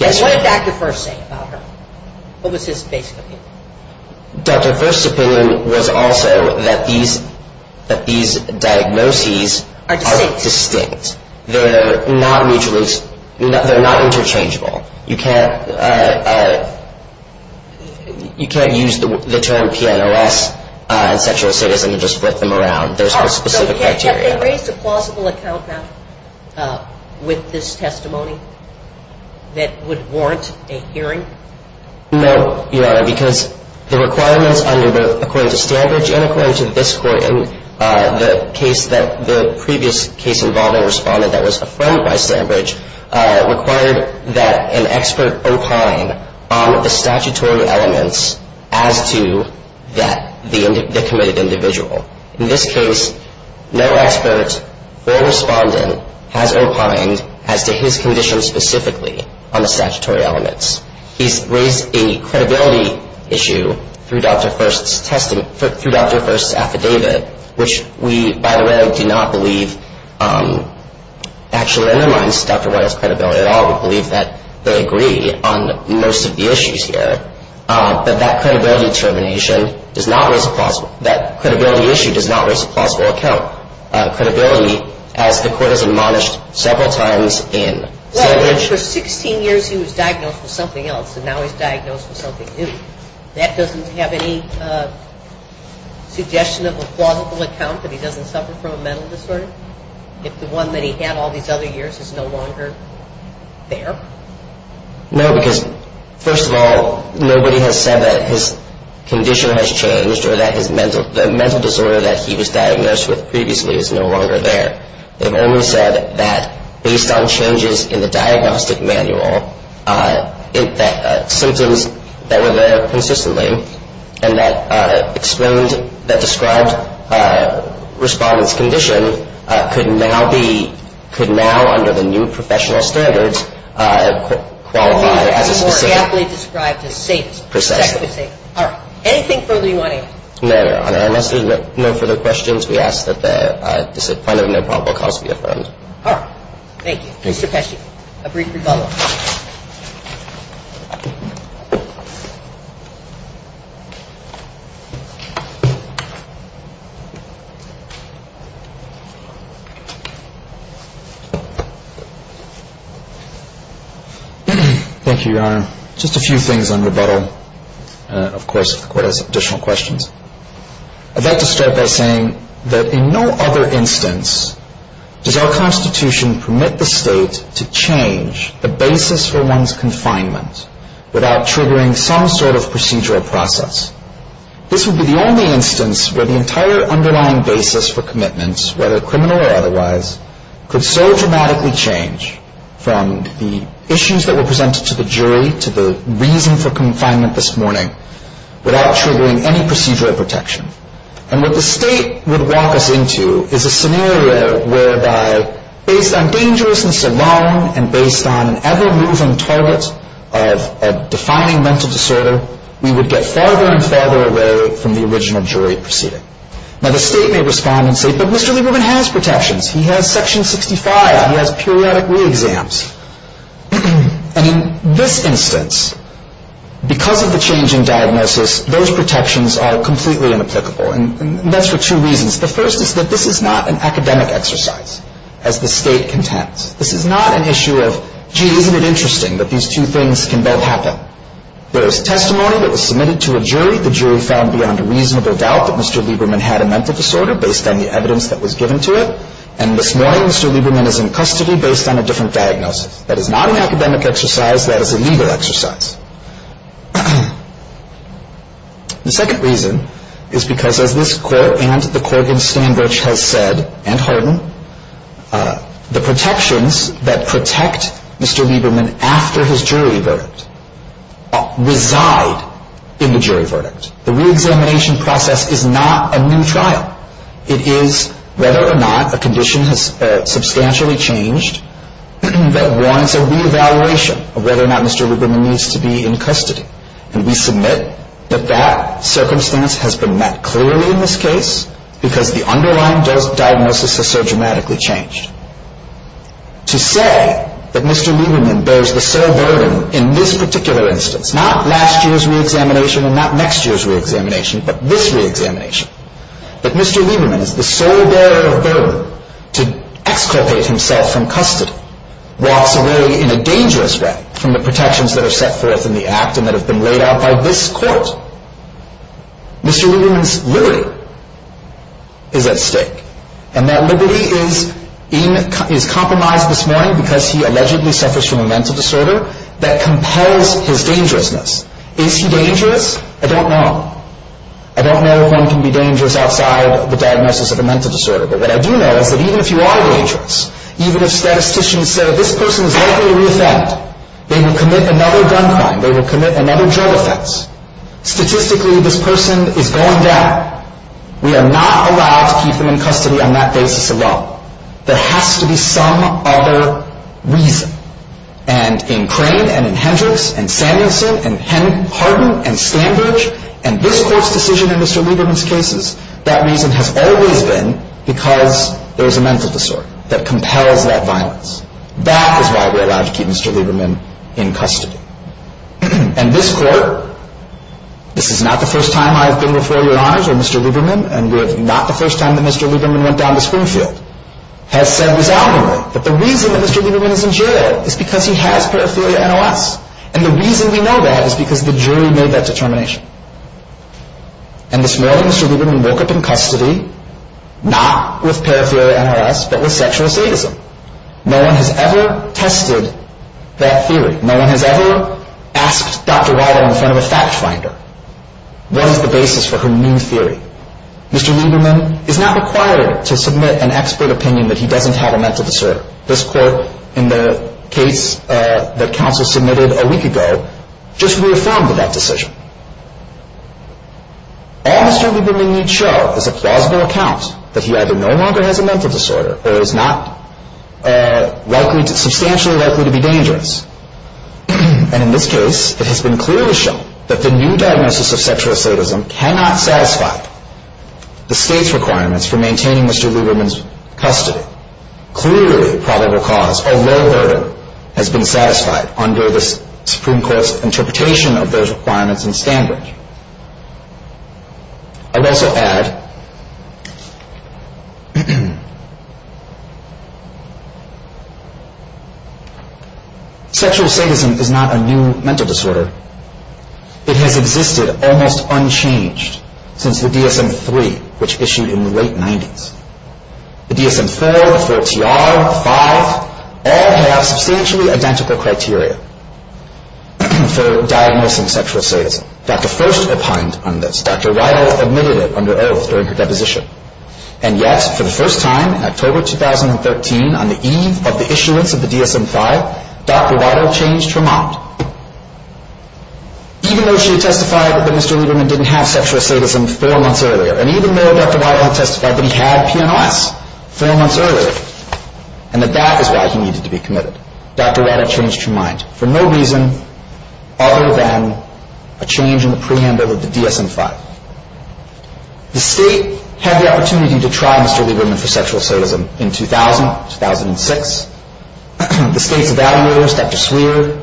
And what did Dr. First say about her? What was his basic opinion? Dr. First's opinion was also that these diagnoses are distinct. They're not interchangeable. You can't use the term TNLS, sexual statement, and just flip them around. There's no specific criteria. So can they raise a plausible account with this testimony that would warrant a hearing? No, Your Honor, because the requirements under both, according to Sandbridge and according to this court in the previous case involving a respondent that was affirmed by Sandbridge, required that an expert opine on the statutory elements as to the committed individual. In this case, no expert or respondent has opined as to his condition specifically on the statutory elements. He's raised a credibility issue through Dr. First's affidavit, which we, by the way, do not believe actually undermines Dr. Weidel's credibility at all. We believe that they agree on most of the issues here. But that credibility issue does not raise a plausible account. Credibility, as the court has admonished several times in other issues. Well, for 16 years he was diagnosed with something else, and now he's diagnosed with something new. That doesn't have any suggestion of a plausible account that he doesn't suffer from a mental disorder? If the one that he had all these other years is no longer there? No, because first of all, nobody has said that his condition has changed or that the mental disorder that he was diagnosed with previously is no longer there. They've only said that based on changes in the diagnostic manual, symptoms that were there consistently and that described respondent's condition could now be, could now, under the new professional standards, qualify as a suspect. He can't be described as a suspect. Anything further you want to add? No, Your Honor. Unless there's no further questions, we ask that the defendant no probable cause be affirmed. Thank you. Mr. Pesci, a brief rebuttal. Thank you, Your Honor. Just a few things on rebuttal. Of course, the Court has additional questions. I'd like to start by saying that in no other instance does our Constitution permit the State to change the basis for one's confinement without triggering some sort of procedural process. This would be the only instance where the entire underlying basis for commitment, whether criminal or otherwise, could so dramatically change from the issues that were presented to the jury to the reason for confinement this morning without triggering any procedural protection. And what the State would walk us into is a scenario whereby, based on dangerousness alone and based on an ever-moving target of defining mental disorder, we would get farther and farther away from the original jury proceeding. Now, the State may respond and say, but Mr. Lieberman has protections. He has Section 65. He has periodic re-exams. And in this instance, because of the change in diagnosis, those protections are completely inapplicable, and that's for two reasons. The first is that this is not an academic exercise, as the State contends. This is not an issue of, gee, isn't it interesting that these two things can both happen. There is testimony that was submitted to a jury. The jury found beyond a reasonable doubt that Mr. Lieberman had a mental disorder based on the evidence that was given to it. And this morning, Mr. Lieberman is in custody based on a different diagnosis. That is not an academic exercise. That is a legal exercise. The second reason is because of this, and the Corvin standards have said, and Holden, the protections that protect Mr. Lieberman after his jury verdict reside in the jury verdict. The re-examination process is not a new trial. It is whether or not a condition has substantially changed that warrants a re-evaluation of whether or not Mr. Lieberman needs to be in custody. And we submit that that circumstance has been met clearly in this case because the underlying diagnosis has so dramatically changed. To say that Mr. Lieberman bears the sole burden in this particular instance, not last year's re-examination and not next year's re-examination, but this re-examination, that Mr. Lieberman is the sole bearer of burden to exculpate himself from custody, while still living in a dangerous way from the protections that are set forth in the Act and that have been laid out by this Court. Mr. Lieberman's liberty is at stake. And that liberty is compromised this morning because he allegedly suffers from a mental disorder that compels his dangerousness. Is he dangerous? I don't know. I don't know that one can be dangerous outside the diagnosis of a mental disorder, but I do know that even if you are dangerous, even if statisticians say, this person is likely to re-exempt, they will commit another gun crime, they will commit another drug offense, statistically this person is going to die, we are not allowed to keep him in custody on that basis alone. There has to be some other reason. And in Crane, and in Hendricks, and in Sanderson, and in Hardin, and in Sandbridge, and this Court's decision in Mr. Lieberman's case, that reason has always been because there is a mental disorder that compels that violence. That is why we are allowed to keep Mr. Lieberman in custody. And this Court, this is not the first time I have been with Larry Lodge and Mr. Lieberman, and this is not the first time that Mr. Lieberman went down to Springfield, has said without him. But the reason Mr. Lieberman is in jail is because he has paraphernalia NLS. And the reason we know that is because the jury made that determination. And this morning, Mr. Lieberman woke up in custody, not with paraphernalia NLS, but with sexual assault. No one has ever tested that theory. No one has ever asked Dr. Ryder in front of a fact finder, what is the basis for her new theory. Mr. Lieberman is not required to submit an expert opinion that he doesn't have a mental disorder. This Court, in the case that counsel submitted a week ago, just reaffirmed that decision. All the circumstances we need show is a plausible account that he either no longer has a mental disorder, or is not substantially likely to be dangerous. And in this case, it has been clearly shown that the new diagnosis of sexual assaultism cannot satisfy the state's requirements for maintaining Mr. Lieberman's custody. Clearly, probable cause or no error has been satisfied under the Supreme Court's interpretation of those requirements and standards. I'll also add, sexual assaultism is not a new mental disorder. It has existed almost unchanged since the DSM-3, which issued in the late 90s. The DSM-4, the DSM-5, all have spiritually identical criteria for diagnosing sexual assaultism. Dr. First opined on this. Dr. Waddell admitted it under oath during her deposition. And yet, for the first time in October 2013, on the eve of the issuance of the DSM-5, Dr. Waddell changed her mind. Even though she testified that Mr. Lieberman didn't have sexual assaultism three months earlier, and even though Dr. Waddell testified that he had TNF three months earlier, and that that was why he needed to be committed, Dr. Waddell changed her mind. For no reason other than a change in the preamble of the DSM-5. The State had the opportunity to trial Mr. Lieberman for sexual assaultism in 2000, 2006. The State evaluators, Dr. Smear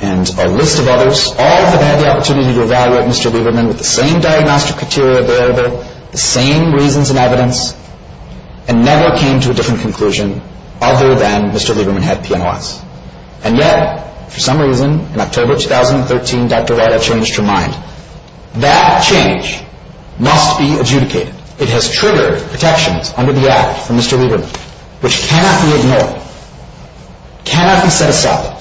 and a list of others, all have had the opportunity to evaluate Mr. Lieberman with the same diagnostic criteria available, the same reasons and evidence, and never came to a different conclusion other than Mr. Lieberman had TNF. And yet, for some reason, in October 2013, Dr. Waddell changed her mind. That change must be adjudicated. It has triggered protections under the Act for Mr. Lieberman, which cannot be ignored. Cannot be set aside.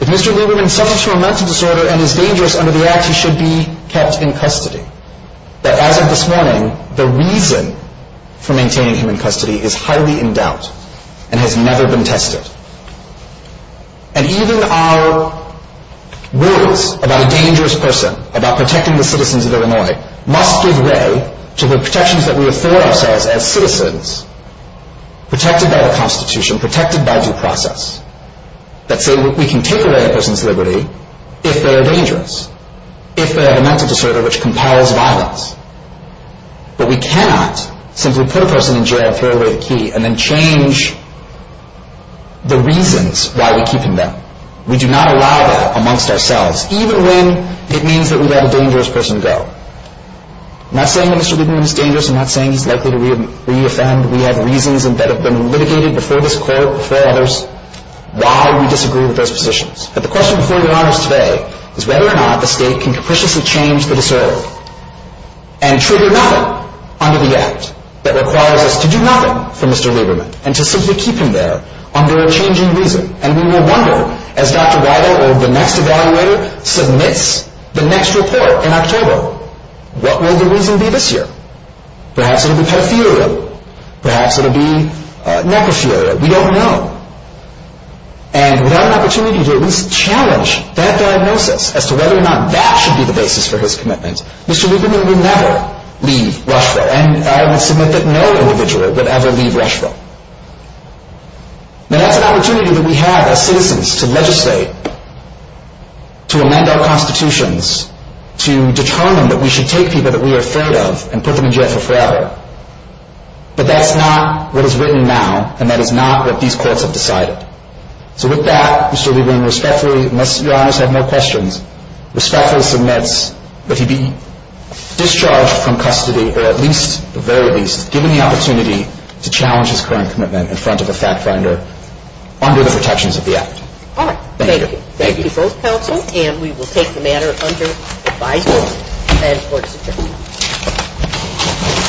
If Mr. Lieberman suffers from a mental disorder and is dangerous under the Act, he should be kept in custody. That, as of this morning, the reason for maintaining him in custody is highly in doubt and has never been tested. And even our rules about a dangerous person, about protecting the citizens of Illinois, must give way to the protections that we afford ourselves as citizens, protected by our Constitution, protected by due process, that say we can take away a person's liberty if they are dangerous, if they have a mental disorder which compels violence. But we cannot simply put a person in jail, throw away a key, and then change the reasons why we're keeping them. We do not allow that amongst ourselves, even when it means that we let a dangerous person go. I'm not saying that Mr. Lieberman is dangerous. I'm not saying he's likely to re-offend. We have reasons that have been litigated before us why we disagree with those provisions. But the question before we ask today is whether or not the state can capriciously change the disorder and trigger another under the Act that requires us to do nothing for Mr. Lieberman and to simply keep him there under a changing reason. And we will wonder, as Dr. Weiler, or the next evaluator, submits the next referral in October, what will the reason be this year? Perhaps it will be typhoid-related. Perhaps it will be necrosis-related. We don't know. And without an opportunity to at least challenge that diagnosis as to whether or not that should be the basis for his commitment, Mr. Lieberman would never leave Rushville, and I have submitted no individual would ever leave Rushville. Now that's an opportunity that we have as citizens to legislate, to amend our constitutions, to determine that we should take people that we are afraid of and put them in jail for forever. But that is not what is written now, and that is not what these courts have decided. So with that, Mr. Lieberman, respectfully, unless Your Honor has no questions, respectfully submits that he be discharged from custody, or at least, at the very least, given the opportunity to challenge his current commitment in front of the fact finder under the protections of the Act. All right. Thank you. Thank you. Thank you both counsel, and we will take the matter under revised order.